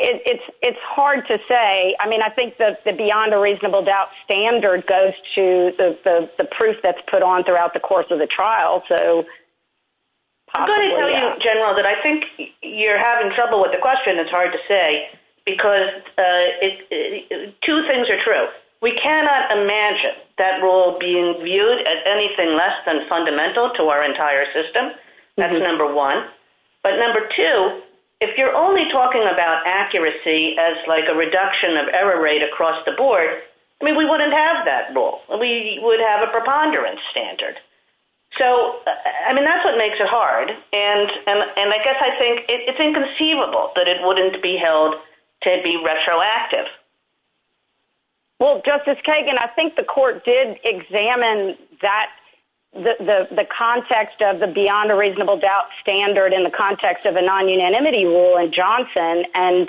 It's hard to say. I mean, I think that the beyond a reasonable doubt standard goes to the proof that's put on throughout the course of the trial. I'm going to tell you, General, that I think you're having trouble with the question. It's hard to say because two things are true. We cannot imagine that rule being viewed as anything less than fundamental to our entire system. That's number one. But number two, if you're only talking about accuracy as like a reduction of error rate across the board, I mean, we wouldn't have that rule. We would have a preponderance standard. So, I mean, that's what makes it hard, and I guess I think it's inconceivable that it wouldn't be held to be retroactive. Well, Justice Kagan, I think the Court did examine the context of the beyond a reasonable doubt standard in the context of a non-unanimity rule in Johnson, and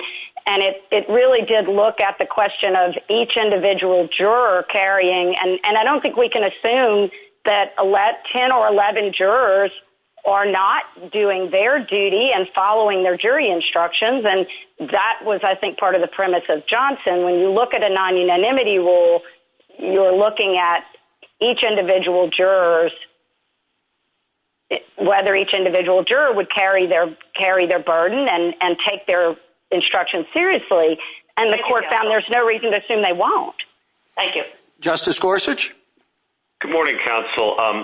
it really did look at the question of each individual juror carrying, and I don't think we can assume that 10 or 11 jurors are not doing their duty and following their jury instructions. And that was, I think, part of the premise of Johnson. When you look at a non-unanimity rule, you're looking at each individual jurors, whether each individual juror would carry their burden and take their instruction seriously, and the Court found there's no reason to assume they won't. Thank you. Justice Gorsuch? Good morning, Counsel. As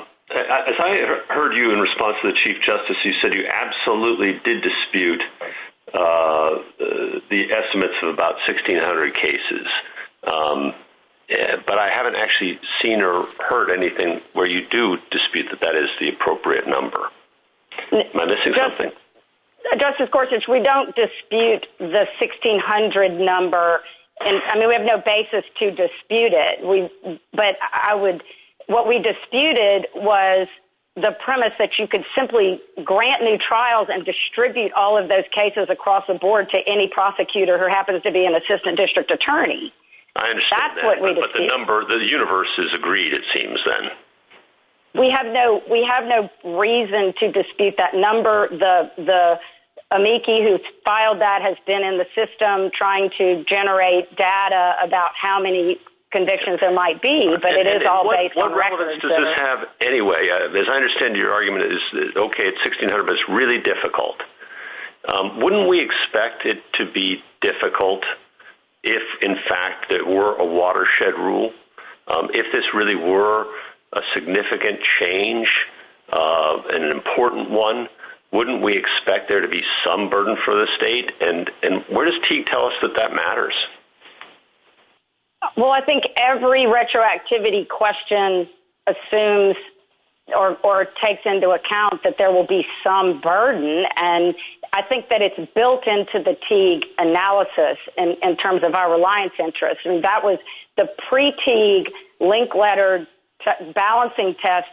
I heard you in response to the Chief Justice, you said you absolutely did dispute the estimates of about 1,600 cases, but I haven't actually seen or heard anything where you do dispute that that is the appropriate number. Justice Gorsuch, we don't dispute the 1,600 number. I mean, we have no basis to dispute it, but what we disputed was the premise that you could simply grant new trials and distribute all of those cases across the board to any prosecutor who happens to be an assistant district attorney. I understand that, but the number, the universe is agreed, it seems, then. We have no reason to dispute that number. The amici who filed that has been in the system trying to generate data about how many convictions there might be, but it is all based on records. Anyway, as I understand your argument, okay, it's 1,600, but it's really difficult. Wouldn't we expect it to be difficult if, in fact, there were a watershed rule? If this really were a significant change and an important one, wouldn't we expect there to be some burden for the state? And where does Teague tell us that that matters? Well, I think every retroactivity question assumes or takes into account that there will be some burden. And I think that it's built into the Teague analysis in terms of our reliance interest. And that was the pre-Teague link letter balancing test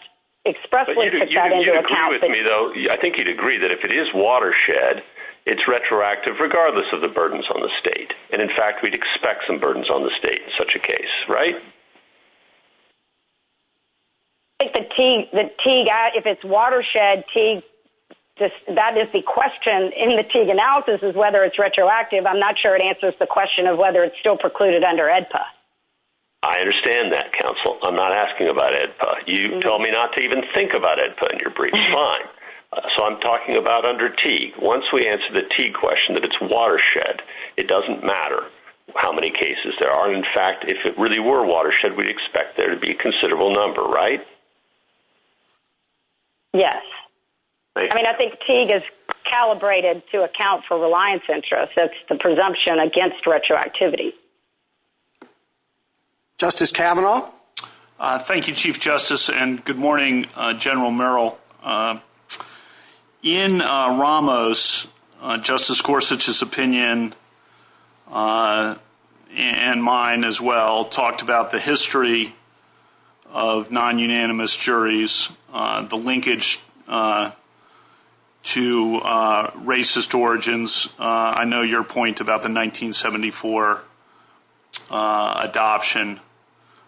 expressly took that into account. But you agree with me, though. I think you'd agree that if it is watershed, it's retroactive, regardless of the burdens on the state. And, in fact, we'd expect some burdens on the state in such a case, right? If it's watershed, that is the question in the Teague analysis is whether it's retroactive. I'm not sure it answers the question of whether it's still precluded under AEDPA. I understand that, counsel. I'm not asking about AEDPA. You told me not to even think about AEDPA in your brief. Fine. So I'm talking about under Teague. Once we answer the Teague question that it's watershed, it doesn't matter how many cases there are. In fact, if it really were watershed, we'd expect there to be a considerable number, right? Yes. I mean, I think Teague is calibrated to account for reliance interest. That's the presumption against retroactivity. Justice Kavanaugh? Thank you, Chief Justice, and good morning, General Merrill. In Ramos, Justice Gorsuch's opinion, and mine as well, talked about the history of non-unanimous juries, the linkage to racist origins. I know your point about the 1974 adoption,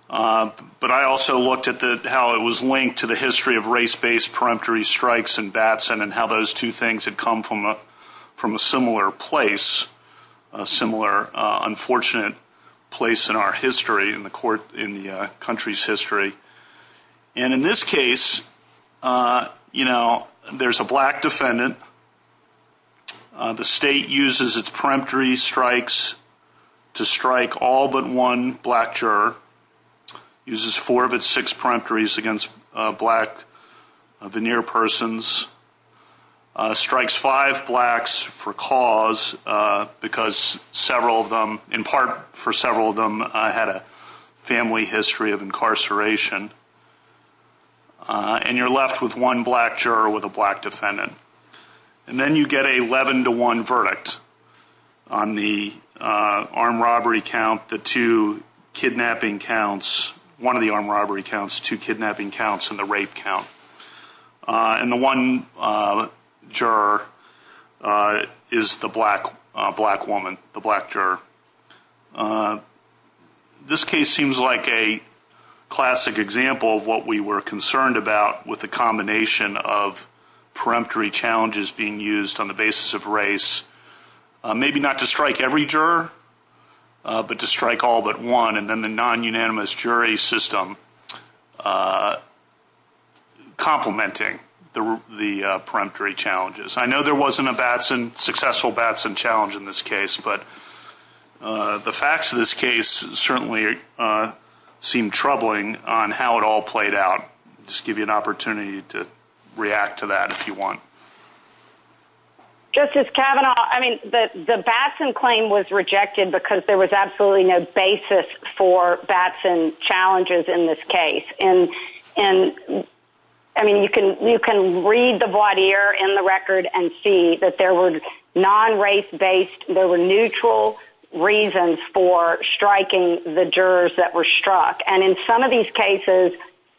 but I also looked at how it was linked to the history of race-based peremptory strikes in Batson and how those two things had come from a similar place, a similar unfortunate place in our history, in the country's history. In this case, there's a black defendant. The state uses its peremptory strikes to strike all but one black juror, uses four of its six peremptories against black veneer persons, strikes five blacks for cause because several of them, in part for several of them, had a family history of incarceration. And you're left with one black juror with a black defendant. And then you get an 11-to-1 verdict on the armed robbery count, the two kidnapping counts, one of the armed robbery counts, two kidnapping counts, and the rape count. And the one juror is the black woman, the black juror. This case seems like a classic example of what we were concerned about with the combination of peremptory challenges being used on the basis of race, maybe not to strike every juror, but to strike all but one, and then the non-unanimous jury system complementing the peremptory challenges. I know there wasn't a successful Batson challenge in this case, but the facts of this case certainly seem troubling on how it all played out. I'll just give you an opportunity to react to that if you want. Justice Kavanaugh, I mean, the Batson claim was rejected because there was absolutely no basis for Batson challenges in this case. And, I mean, you can read the voir dire in the record and see that there were non-race-based, there were neutral reasons for striking the jurors that were struck. And in some of these cases,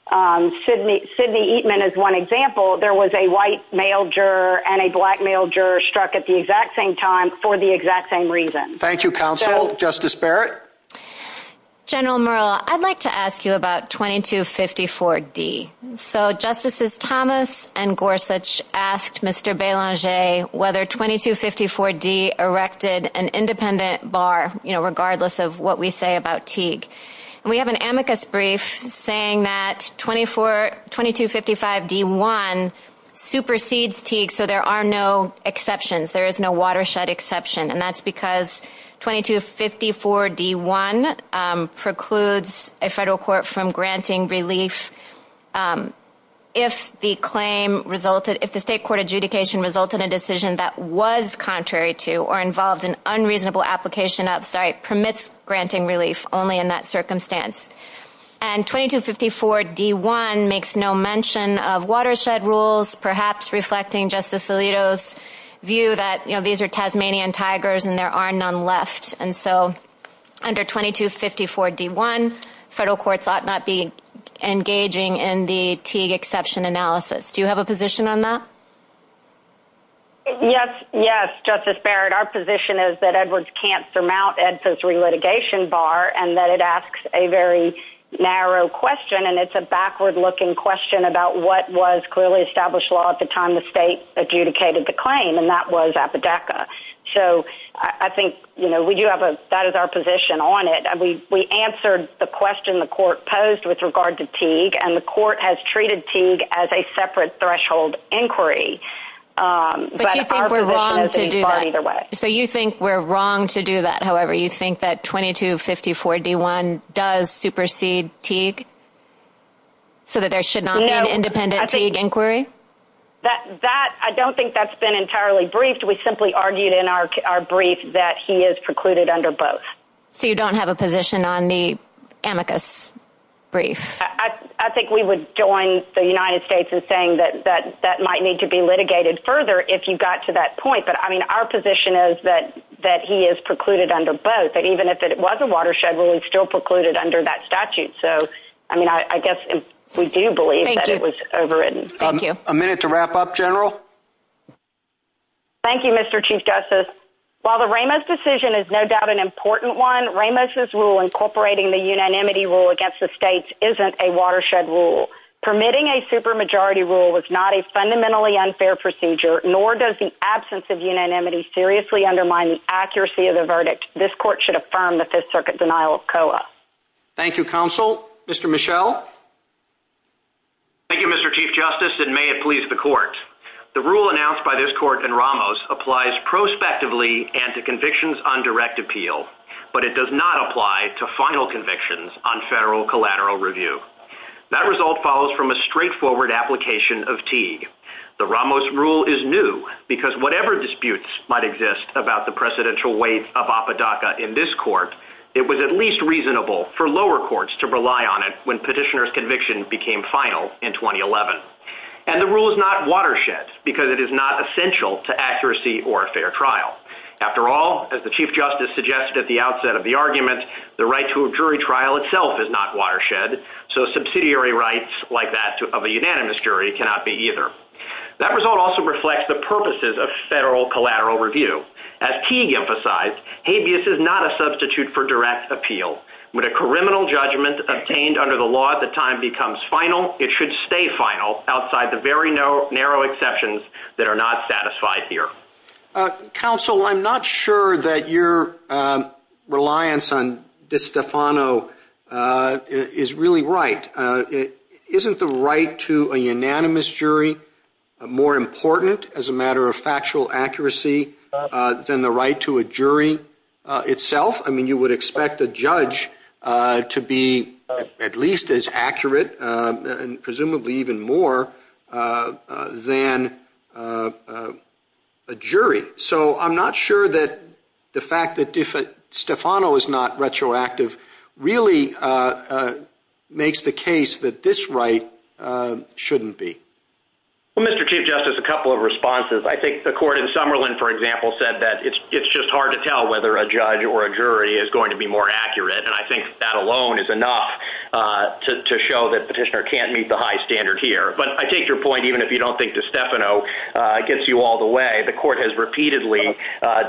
Sidney Eatman is one example, there was a white male juror and a black male juror struck at the exact same time for the exact same reason. Thank you, counsel. Justice Barrett? General Murl, I'd like to ask you about 2254D. So, Justices Thomas and Gorsuch asked Mr. Belanger whether 2254D erected an independent bar, you know, regardless of what we say about Teague. We have an amicus brief saying that 2255D1 supersedes Teague, so there are no exceptions, there is no watershed exception, and that's because 2254D1 precludes a federal court from granting relief if the state court adjudication resulted in a decision that was contrary to or involved in unreasonable application of, sorry, permits granting relief only in that circumstance. And 2254D1 makes no mention of watershed rules, perhaps reflecting Justice Alito's view that, you know, these are Tasmanian tigers and there are none left. And so, under 2254D1, federal courts ought not be engaging in the Teague exception analysis. Do you have a position on that? Yes, Justice Barrett. Our position is that Edwards can't surmount Ed's post-relitigation bar and that it asks a very narrow question, and it's a backward-looking question about what was clearly established law at the time the state adjudicated the claim, and that was Apodaca. So, I think, you know, we do have a, that is our position on it. We answered the question the court posed with regard to Teague, and the court has treated Teague as a separate threshold inquiry. But do you think we're wrong to do that? So, you think we're wrong to do that, however? You think that 2254D1 does supersede Teague so that there should not be an independent Teague inquiry? That, I don't think that's been entirely briefed. We simply argued in our brief that he is precluded under both. So, you don't have a position on the amicus brief? I think we would join the United States in saying that that might need to be litigated further if you got to that point. But, I mean, our position is that he is precluded under both, that even if it was a watershed, we would still preclude it under that statute. So, I mean, I guess we do believe that it was overridden. A minute to wrap up, General? Thank you, Mr. Chief Justice. While the Ramos decision is no doubt an important one, Ramos' rule incorporating the unanimity rule against the states isn't a watershed rule. Permitting a supermajority rule is not a fundamentally unfair procedure, nor does the absence of unanimity seriously undermine the accuracy of the verdict. This court should affirm the Fifth Circuit denial of COA. Thank you, Counsel. Mr. Michel? Thank you, Mr. Chief Justice, and may it please the court. The rule announced by this court in Ramos applies prospectively and to convictions on direct appeal, but it does not apply to final convictions on federal collateral review. That result follows from a straightforward application of Teague. The Ramos rule is new because whatever disputes might exist about the precedential weight of Apodaca in this court, it was at least reasonable for lower courts to rely on it when petitioner's conviction became final in 2011. And the rule is not watershed because it is not essential to accuracy or fair trial. After all, as the Chief Justice suggested at the outset of the argument, the right to a jury trial itself is not watershed, so subsidiary rights like that of a unanimous jury cannot be either. That result also reflects the purposes of federal collateral review. As Teague emphasized, habeas is not a substitute for direct appeal. When a criminal judgment obtained under the law at the time becomes final, it should stay final outside the very narrow exceptions that are not satisfied here. Counsel, I'm not sure that your reliance on DeStefano is really right. Isn't the right to a unanimous jury more important as a matter of factual accuracy than the right to a jury itself? I mean, you would expect a judge to be at least as accurate and presumably even more than a jury. So I'm not sure that the fact that DeStefano is not retroactive really makes the case that this right shouldn't be. Mr. Chief Justice, a couple of responses. I think the court in Summerlin, for example, said that it's just hard to tell whether a judge or a jury is going to be more accurate. And I think that alone is enough to show that petitioner can't meet the high standard here. But I take your point even if you don't think DeStefano gets you all the way. The court has repeatedly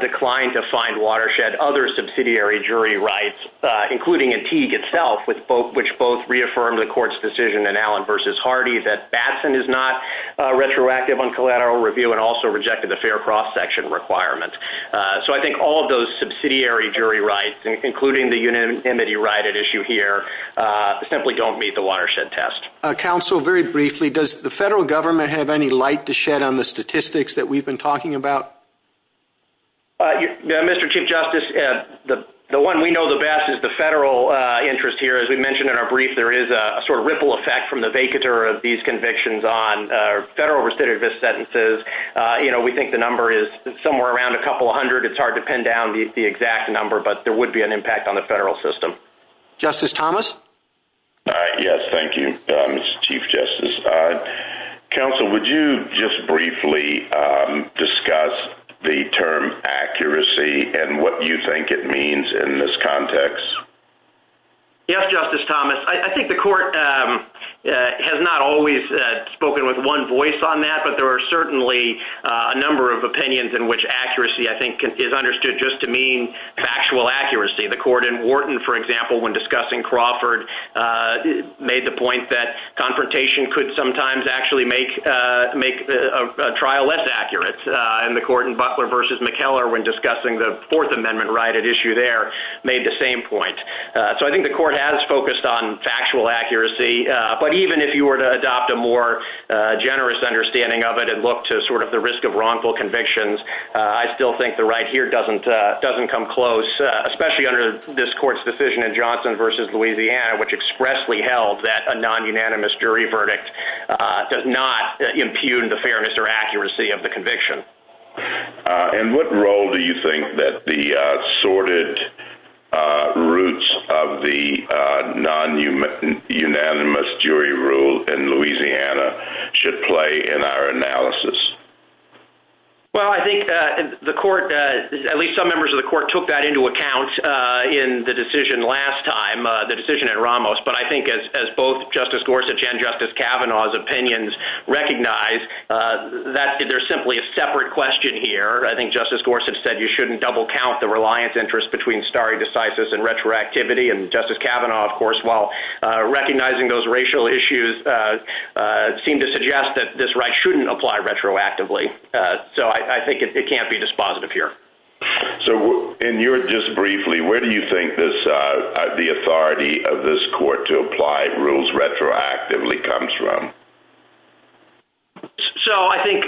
declined to find Watershed other subsidiary jury rights, including in Teague itself, which both reaffirmed the court's decision in Allen v. Hardy that Batson is not retroactive on collateral review and also rejected the fair cross-section requirement. So I think all of those subsidiary jury rights, including the unanimity right at issue here, simply don't meet the Watershed test. Counsel, very briefly, does the federal government have any light to shed on the statistics that we've been talking about? Mr. Chief Justice, the one we know the best is the federal interest here. As we mentioned in our brief, there is a sort of ripple effect from the vacatur of these convictions on federal recidivist sentences. We think the number is somewhere around a couple hundred. It's hard to pin down the exact number, but there would be an impact on the federal system. Justice Thomas? Yes, thank you, Mr. Chief Justice. Counsel, would you just briefly discuss the term accuracy and what you think it means in this context? Yes, Justice Thomas. I think the court has not always spoken with one voice on that, but there are certainly a number of opinions in which accuracy, I think, is understood just to mean actual accuracy. The court in Wharton, for example, when discussing Crawford, made the point that confrontation could sometimes actually make a trial less accurate. And the court in Butler v. McKellar, when discussing the Fourth Amendment right at issue there, made the same point. So I think the court has focused on factual accuracy, but even if you were to adopt a more generous understanding of it and look to sort of the risk of wrongful convictions, I still think the right here doesn't come close, especially under this court's decision in Johnson v. Louisiana, which expressly held that a non-unanimous jury verdict does not impugn the fairness or accuracy of the conviction. And what role do you think that the sorted roots of the non-unanimous jury rule in Louisiana should play in our analysis? Well, I think the court, at least some members of the court, took that into account in the decision last time, the decision at Ramos. But I think as both Justice Gorsuch and Justice Kavanaugh's opinions recognize, there's simply a separate question here. I think Justice Gorsuch said you shouldn't double count the reliance interest between stare decisis and retroactivity. And Justice Kavanaugh, of course, while recognizing those racial issues, seemed to suggest that this right shouldn't apply retroactively. So I think it can't be dispositive here. So just briefly, where do you think the authority of this court to apply rules retroactively comes from? So I think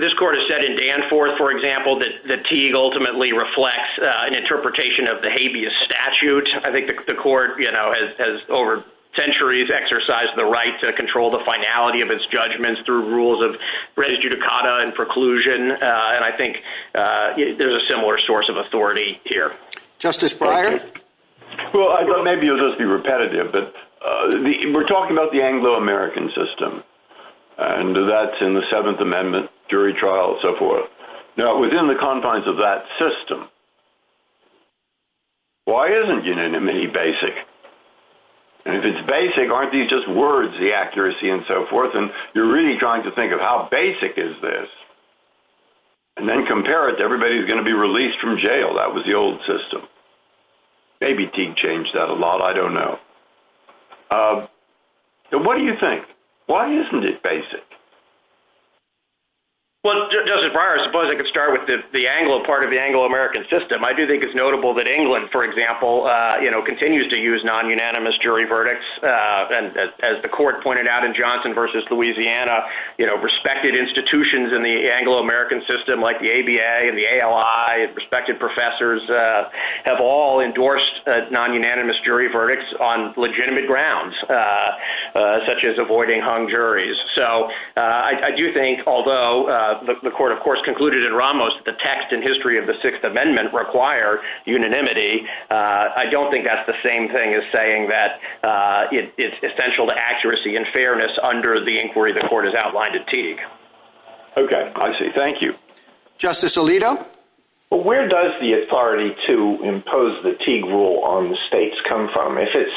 this court has said in Danforth, for example, that Teague ultimately reflects an interpretation of the habeas statute. I think the court has, over centuries, exercised the right to control the finality of its judgments through rules of res judicata and preclusion. And I think there's a similar source of authority here. Justice Breyer? Well, maybe it'll just be repetitive, but we're talking about the Anglo-American system. And that's in the Seventh Amendment, jury trial, and so forth. Now, within the confines of that system, why isn't unanimity basic? And if it's basic, aren't these just words, the accuracy and so forth? And you're really trying to think of how basic is this and then compare it to everybody who's going to be released from jail. That was the old system. Maybe Teague changed that a lot. I don't know. So what do you think? Why isn't it basic? Well, Justice Breyer, I suppose I could start with the Anglo part of the Anglo-American system. I do think it's notable that England, for example, continues to use non-unanimous jury verdicts. And as the court pointed out in Johnson v. Louisiana, respected institutions in the Anglo-American system, like the ABA and the ALI, respected professors have all endorsed non-unanimous jury verdicts on legitimate grounds, such as avoiding hung juries. So I do think, although the court, of course, concluded in Ramos that the text and history of the Sixth Amendment require unanimity, I don't think that's the same thing as saying that it's essential to accuracy and fairness under the inquiry the court has outlined at Teague. Okay. I see. Thank you. Justice Alito? Well, where does the authority to impose the Teague rule on the states come from? If it's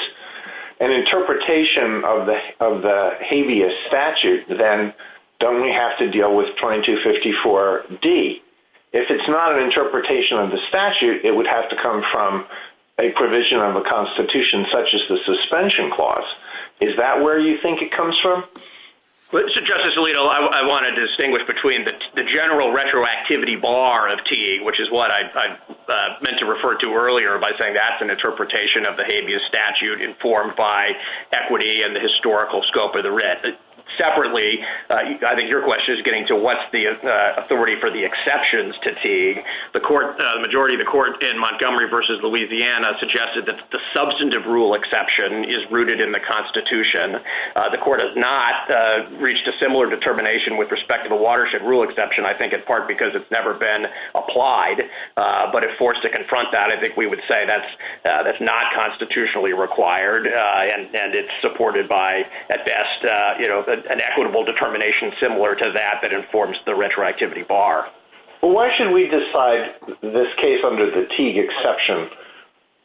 an interpretation of the habeas statute, then don't we have to deal with 2254D? If it's not an interpretation of the statute, it would have to come from a provision of the Constitution, such as the suspension clause. Is that where you think it comes from? Justice Alito, I want to distinguish between the general retroactivity bar of Teague, which is what I meant to refer to earlier by saying that's an interpretation of the habeas statute informed by equity and the historical scope of the writ. Separately, I think your question is getting to what's the authority for the exceptions to Teague. The majority of the court in Montgomery v. Louisiana suggested that the substantive rule exception is rooted in the Constitution. The court has not reached a similar determination with respect to the watershed rule exception, I think in part because it's never been applied, but it forced to confront that. I think we would say that's not constitutionally required, and it's supported by, at best, an equitable determination similar to that that informs the retroactivity bar. Why should we decide this case under the Teague exception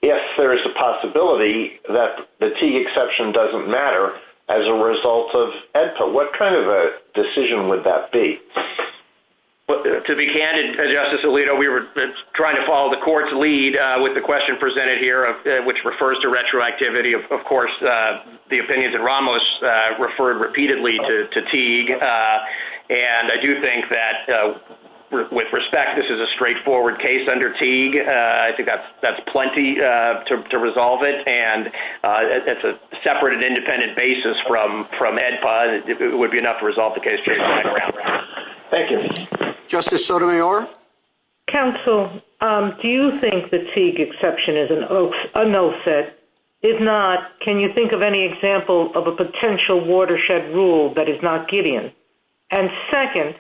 if there is a possibility that the Teague exception doesn't matter as a result of EDPA? What kind of a decision would that be? To be candid, Justice Alito, we were trying to follow the court's lead with the question presented here, which refers to retroactivity. Of course, the opinions of Ramos referred repeatedly to Teague. I do think that, with respect, this is a straightforward case under Teague. I think that's plenty to resolve it. It's a separate and independent basis from EDPA. It would be enough to resolve the case. Thank you. Justice Sotomayor? Counsel, do you think the Teague exception is an offset? If not, can you think of any example of a potential watershed rule that is not Gideon? And second,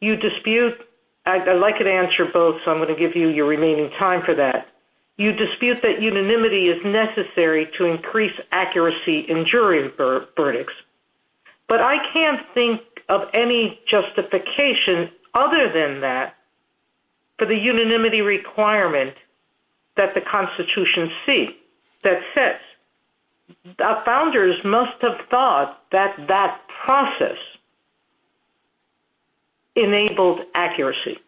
you dispute – I'd like to answer both, so I'm going to give you your remaining time for that. You dispute that unanimity is necessary to increase accuracy in jury verdicts. But I can't think of any justification other than that for the unanimity requirement that the Constitution seeks that says that founders must have thought that that process enabled accuracy.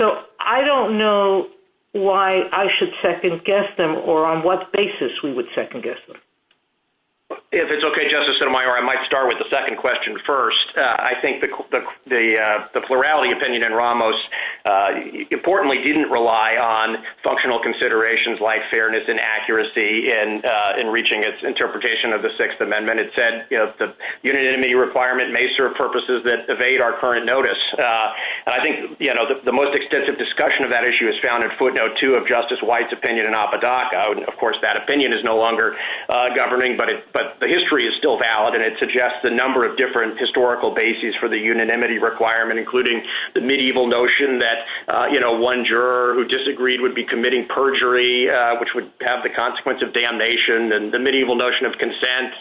So I don't know why I should second-guess them or on what basis we would second-guess them. If it's okay, Justice Sotomayor, I might start with the second question first. I think the plurality opinion in Ramos importantly didn't rely on functional considerations like fairness and accuracy in reaching its interpretation of the Sixth Amendment. It said the unanimity requirement may serve purposes that evade our current notice. I think the most extensive discussion of that issue is found in footnote 2 of Justice White's opinion in Apodaca. Of course, that opinion is no longer governing, but the history is still valid, and it suggests a number of different historical bases for the unanimity requirement, including the medieval notion that one juror who disagreed would be committing perjury, which would have the consequence of damnation, and the medieval notion of consent,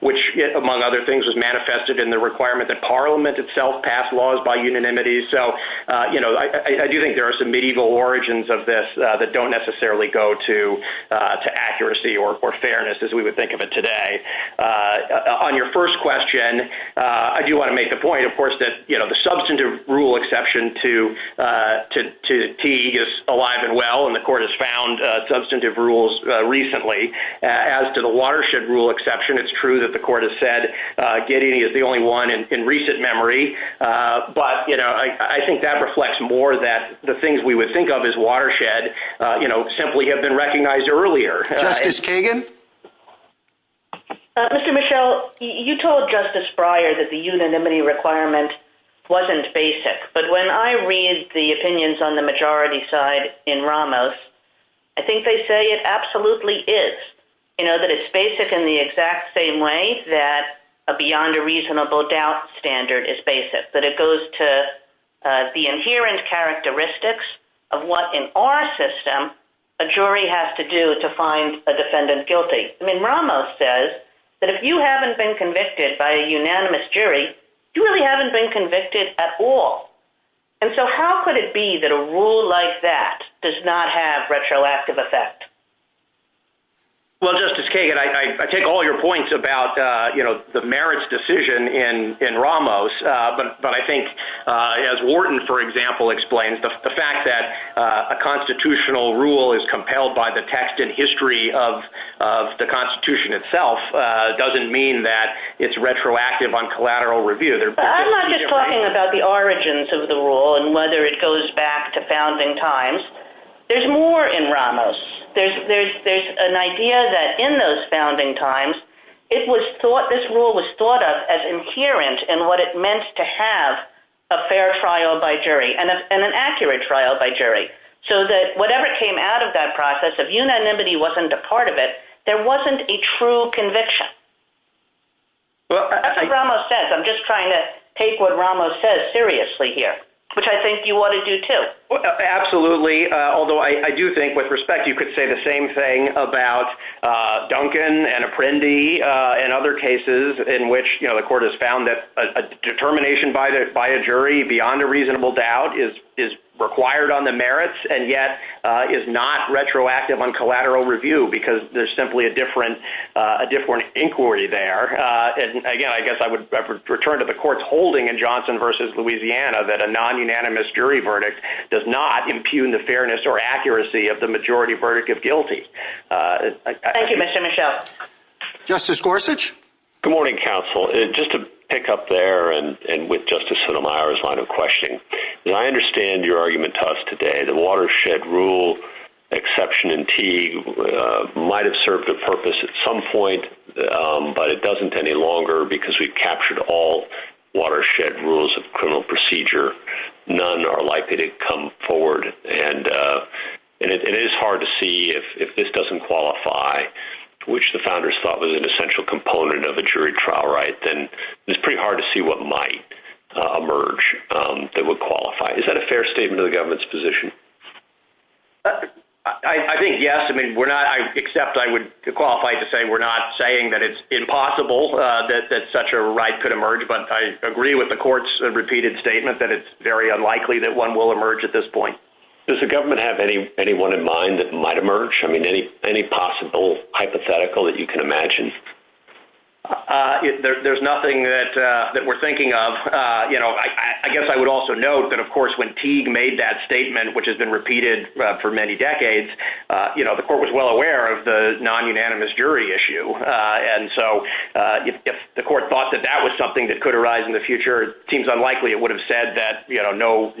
which, among other things, was manifested in the requirement that Parliament itself pass laws by unanimity. I do think there are some medieval origins of this that don't necessarily go to accuracy or fairness as we would think of it today. On your first question, I do want to make the point, of course, that the substantive rule exception to Teague is alive and well, and the Court has found substantive rules recently. As to the watershed rule exception, it's true that the Court has said Gideon is the only one in recent memory, but I think that reflects more that the things we would think of as watershed simply have been recognized earlier. Justice Kagan? Mr. Michel, you told Justice Breyer that the unanimity requirement wasn't basic, but when I read the opinions on the majority side in Ramos, I think they say it absolutely is, that it's basic in the exact same way that a beyond-a-reasonable-doubt standard is basic, that it goes to the inherent characteristics of what, in our system, a jury has to do to find a defendant guilty. I mean, Ramos says that if you haven't been convicted by a unanimous jury, you really haven't been convicted at all, and so how could it be that a rule like that does not have retroactive effect? Well, Justice Kagan, I take all your points about the merits decision in Ramos, but I think, as Wharton, for example, explains, the fact that a constitutional rule is compelled by the texted history of the Constitution itself doesn't mean that it's retroactive on collateral review. I'm not just talking about the origins of the rule and whether it goes back to founding times. There's more in Ramos. There's an idea that in those founding times, this rule was thought of as inherent in what it meant to have a fair trial by jury and an accurate trial by jury, so that whatever came out of that process, if unanimity wasn't a part of it, there wasn't a true conviction. That's what Ramos says. I'm just trying to take what Ramos says seriously here, which I think you ought to do, too. Absolutely, although I do think, with respect, you could say the same thing about Duncan and Apprendi and other cases in which the court has found that a determination by a jury beyond a reasonable doubt is required on the merits and yet is not retroactive on collateral review because there's simply a different inquiry there. Again, I guess I would return to the court's holding in Johnson v. Louisiana that a non-unanimous jury verdict does not impugn the fairness or accuracy of the majority verdict if guilty. Thank you, Mr. Michaud. Justice Gorsuch? Good morning, counsel. Just to pick up there and with Justice Sotomayor's line of questioning, I understand your argument to us today that a watershed rule exception in TEA might have served a purpose at some point, but it doesn't any longer because we captured all watershed rules of criminal procedure. None are likely to come forward, and it is hard to see if this doesn't qualify, which the founders thought was an essential component of the jury trial right, then it's pretty hard to see what might emerge that would qualify. Is that a fair statement of the government's position? I think yes. I accept I would qualify to say we're not saying that it's impossible that such a right could emerge, but I agree with the court's repeated statement that it's very unlikely that one will emerge at this point. Does the government have anyone in mind that might emerge? I mean, any possible hypothetical that you can imagine? There's nothing that we're thinking of. I guess I would also note that, of course, when Teague made that statement, which has been repeated for many decades, the court was well aware of the non-unanimous jury issue, and so if the court thought that that was something that could arise in the future, it seems unlikely it would have said that no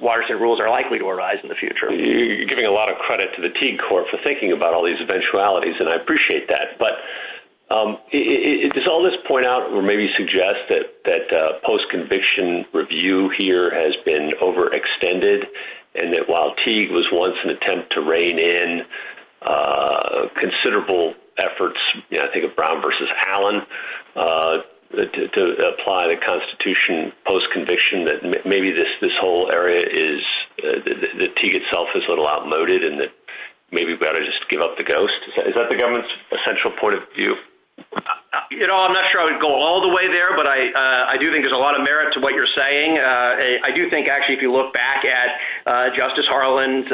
watershed rules are likely to arise in the future. You're giving a lot of credit to the Teague court for thinking about all these eventualities, and I appreciate that. Does all this point out or maybe suggest that post-conviction review here has been overextended and that while Teague was once an attempt to rein in considerable efforts, I think of Brown v. Allen, to apply the Constitution post-conviction, that maybe this whole area is that Teague itself is a little outmoded and that maybe we ought to just give up the ghost? Is that the government's essential point of view? I'm not sure I would go all the way there, but I do think there's a lot of merit to what you're saying. I do think actually if you look back at Justice Harlan's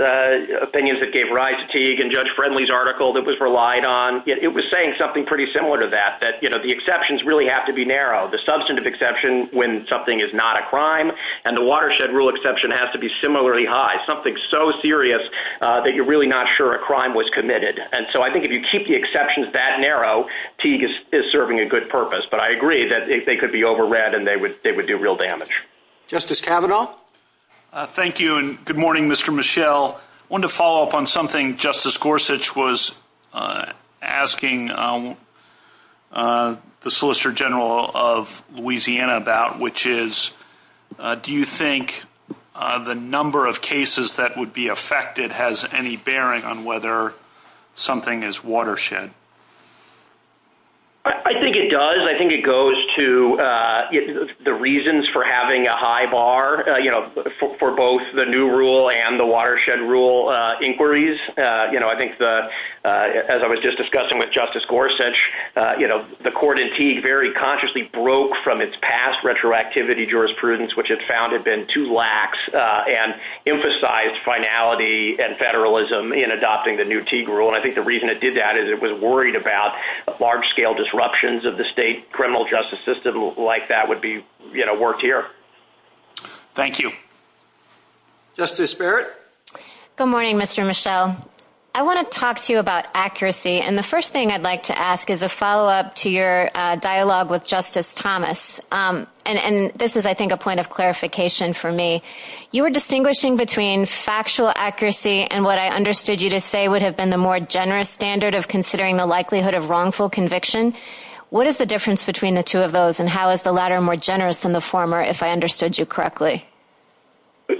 opinions that gave rise to Teague and Judge Friendly's article that was relied on, it was saying something pretty similar to that, that the exceptions really have to be narrow. The substantive exception when something is not a crime and the watershed rule exception has to be similarly high, something so serious that you're really not sure a crime was committed. And so I think if you keep the exceptions that narrow, Teague is serving a good purpose. But I agree that they could be overread and they would do real damage. Justice Kavanaugh? Thank you, and good morning, Mr. Mischel. I wanted to follow up on something Justice Gorsuch was asking the Solicitor General of Louisiana about, which is do you think the number of cases that would be affected has any bearing on whether something is watershed? I think it does. I think it goes to the reasons for having a high bar for both the new rule and the watershed rule inquiries. I think as I was just discussing with Justice Gorsuch, the court in Teague very consciously broke from its past retroactivity jurisprudence, which it found had been too lax, and emphasized finality and federalism in adopting the new Teague rule. And I think the reason it did that is it was worried about large-scale disruptions of the state criminal justice system like that would be worked here. Thank you. Justice Barrett? Good morning, Mr. Mischel. I want to talk to you about accuracy, and the first thing I'd like to ask is a follow-up to your dialogue with Justice Thomas. And this is, I think, a point of clarification for me. You were distinguishing between factual accuracy and what I understood you to say would have been the more generous standard of considering the likelihood of wrongful conviction. What is the difference between the two of those, and how is the latter more generous than the former, if I understood you correctly?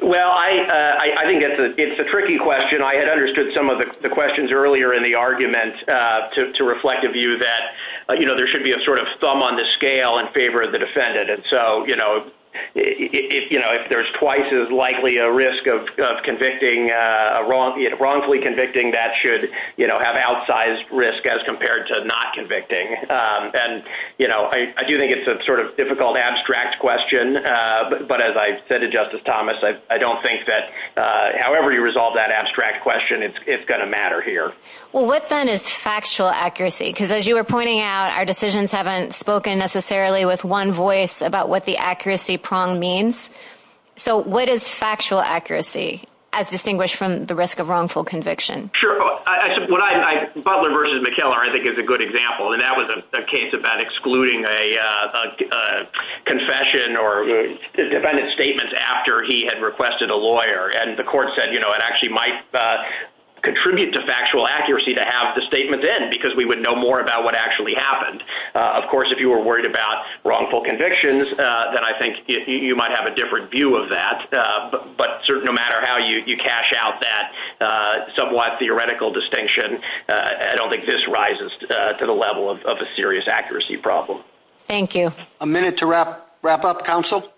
Well, I think it's a tricky question. I had understood some of the questions earlier in the argument to reflect a view that, you know, there should be a sort of thumb on the scale in favor of the defendant. And so, you know, if there's twice as likely a risk of wrongfully convicting, that should have outsized risk as compared to not convicting. And, you know, I do think it's a sort of difficult, abstract question. But as I said to Justice Thomas, I don't think that however you resolve that abstract question, it's going to matter here. Well, what then is factual accuracy? Because as you were pointing out, our decisions haven't spoken necessarily with one voice about what the accuracy prong means. So what is factual accuracy as distinguished from the risk of wrongful conviction? Sure. Butler versus McKellar, I think, is a good example. And that was a case about excluding a confession or defendant's statement after he had requested a lawyer. And the court said, you know, it actually might contribute to factual accuracy to have the statement in, because we would know more about what actually happened. Of course, if you were worried about wrongful convictions, then I think you might have a different view of that. But no matter how you cash out that somewhat theoretical distinction, I don't think this rises to the level of a serious accuracy problem. Thank you. A minute to wrap up, counsel.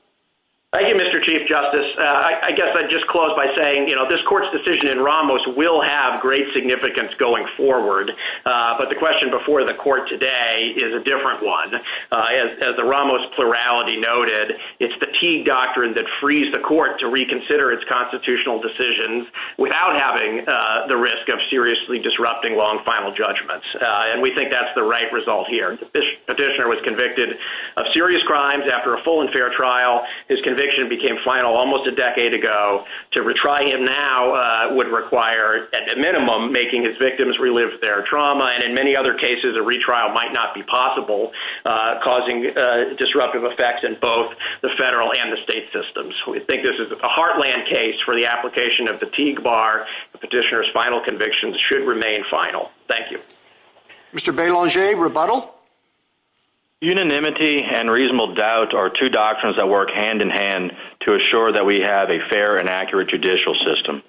Thank you, Mr. Chief Justice. I guess I'd just close by saying, you know, this court's decision in Ramos will have great significance going forward. But the question before the court today is a different one. As the Ramos plurality noted, it's fatigue doctrine that frees the court to reconsider its constitutional decisions without having the risk of seriously disrupting long final judgments. And we think that's the right result here. The petitioner was convicted of serious crimes after a full and fair trial. His conviction became final almost a decade ago. To retry him now would require, at a minimum, making his victims relive their trauma. And in many other cases, a retrial might not be possible, causing disruptive effects in both the federal and the state systems. We think this is a heartland case for the application of fatigue bar. Petitioner's final convictions should remain final. Thank you. Mr. Belanger, rebuttal? Unanimity and reasonable doubt are two doctrines that work hand in hand to assure that we have a fair and accurate judicial system.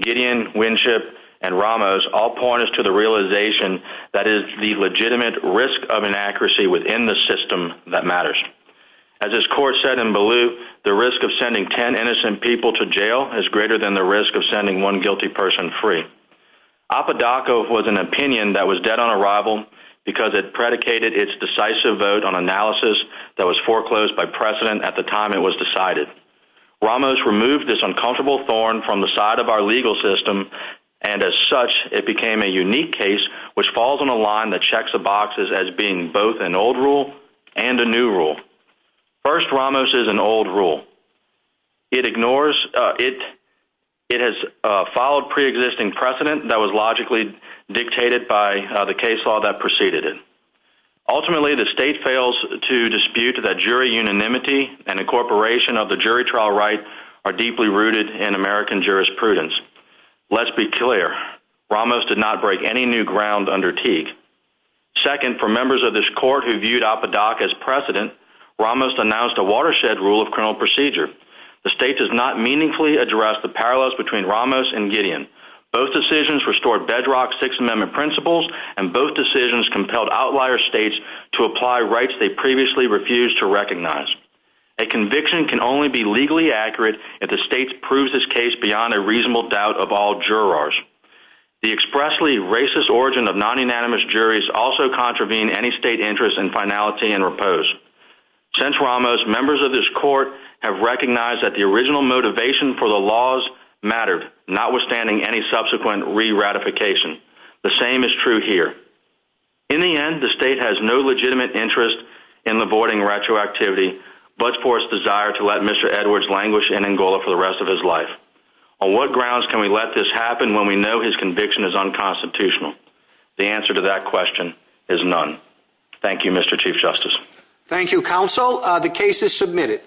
Gideon, Winship, and Ramos all point us to the realization that it is the legitimate risk of inaccuracy within the system that matters. As this court said in Baloo, the risk of sending 10 innocent people to jail is greater than the risk of sending one guilty person free. Apodaca was an opinion that was dead on arrival because it predicated its decisive vote on analysis that was foreclosed by precedent at the time it was decided. Ramos removed this uncomfortable thorn from the side of our legal system, and as such, it became a unique case which falls on a line that checks the boxes as being both an old rule and a new rule. First, Ramos is an old rule. It ignores – it has followed preexisting precedent that was logically dictated by the case law that preceded it. Ultimately, the state fails to dispute that jury unanimity and incorporation of the jury trial right are deeply rooted in American jurisprudence. Let's be clear. Ramos did not break any new ground under Teague. Second, for members of this court who viewed Apodaca as precedent, Ramos announced a watershed rule of criminal procedure. The state does not meaningfully address the parallels between Ramos and Gideon. Both decisions restored bedrock Sixth Amendment principles, and both decisions compelled outlier states to apply rights they previously refused to recognize. A conviction can only be legally accurate if the states prove this case beyond a reasonable doubt of all jurors. The expressly racist origin of non-unanimous juries also contravene any state interest in finality and repose. Since Ramos, members of this court have recognized that the original motivation for the laws mattered, notwithstanding any subsequent re-ratification. The same is true here. In the end, the state has no legitimate interest in avoiding retroactivity, but for its desire to let Mr. Edwards languish in Angola for the rest of his life. On what grounds can we let this happen when we know his conviction is unconstitutional? The answer to that question is none. Thank you, Mr. Chief Justice. Thank you, Counsel. The case is submitted.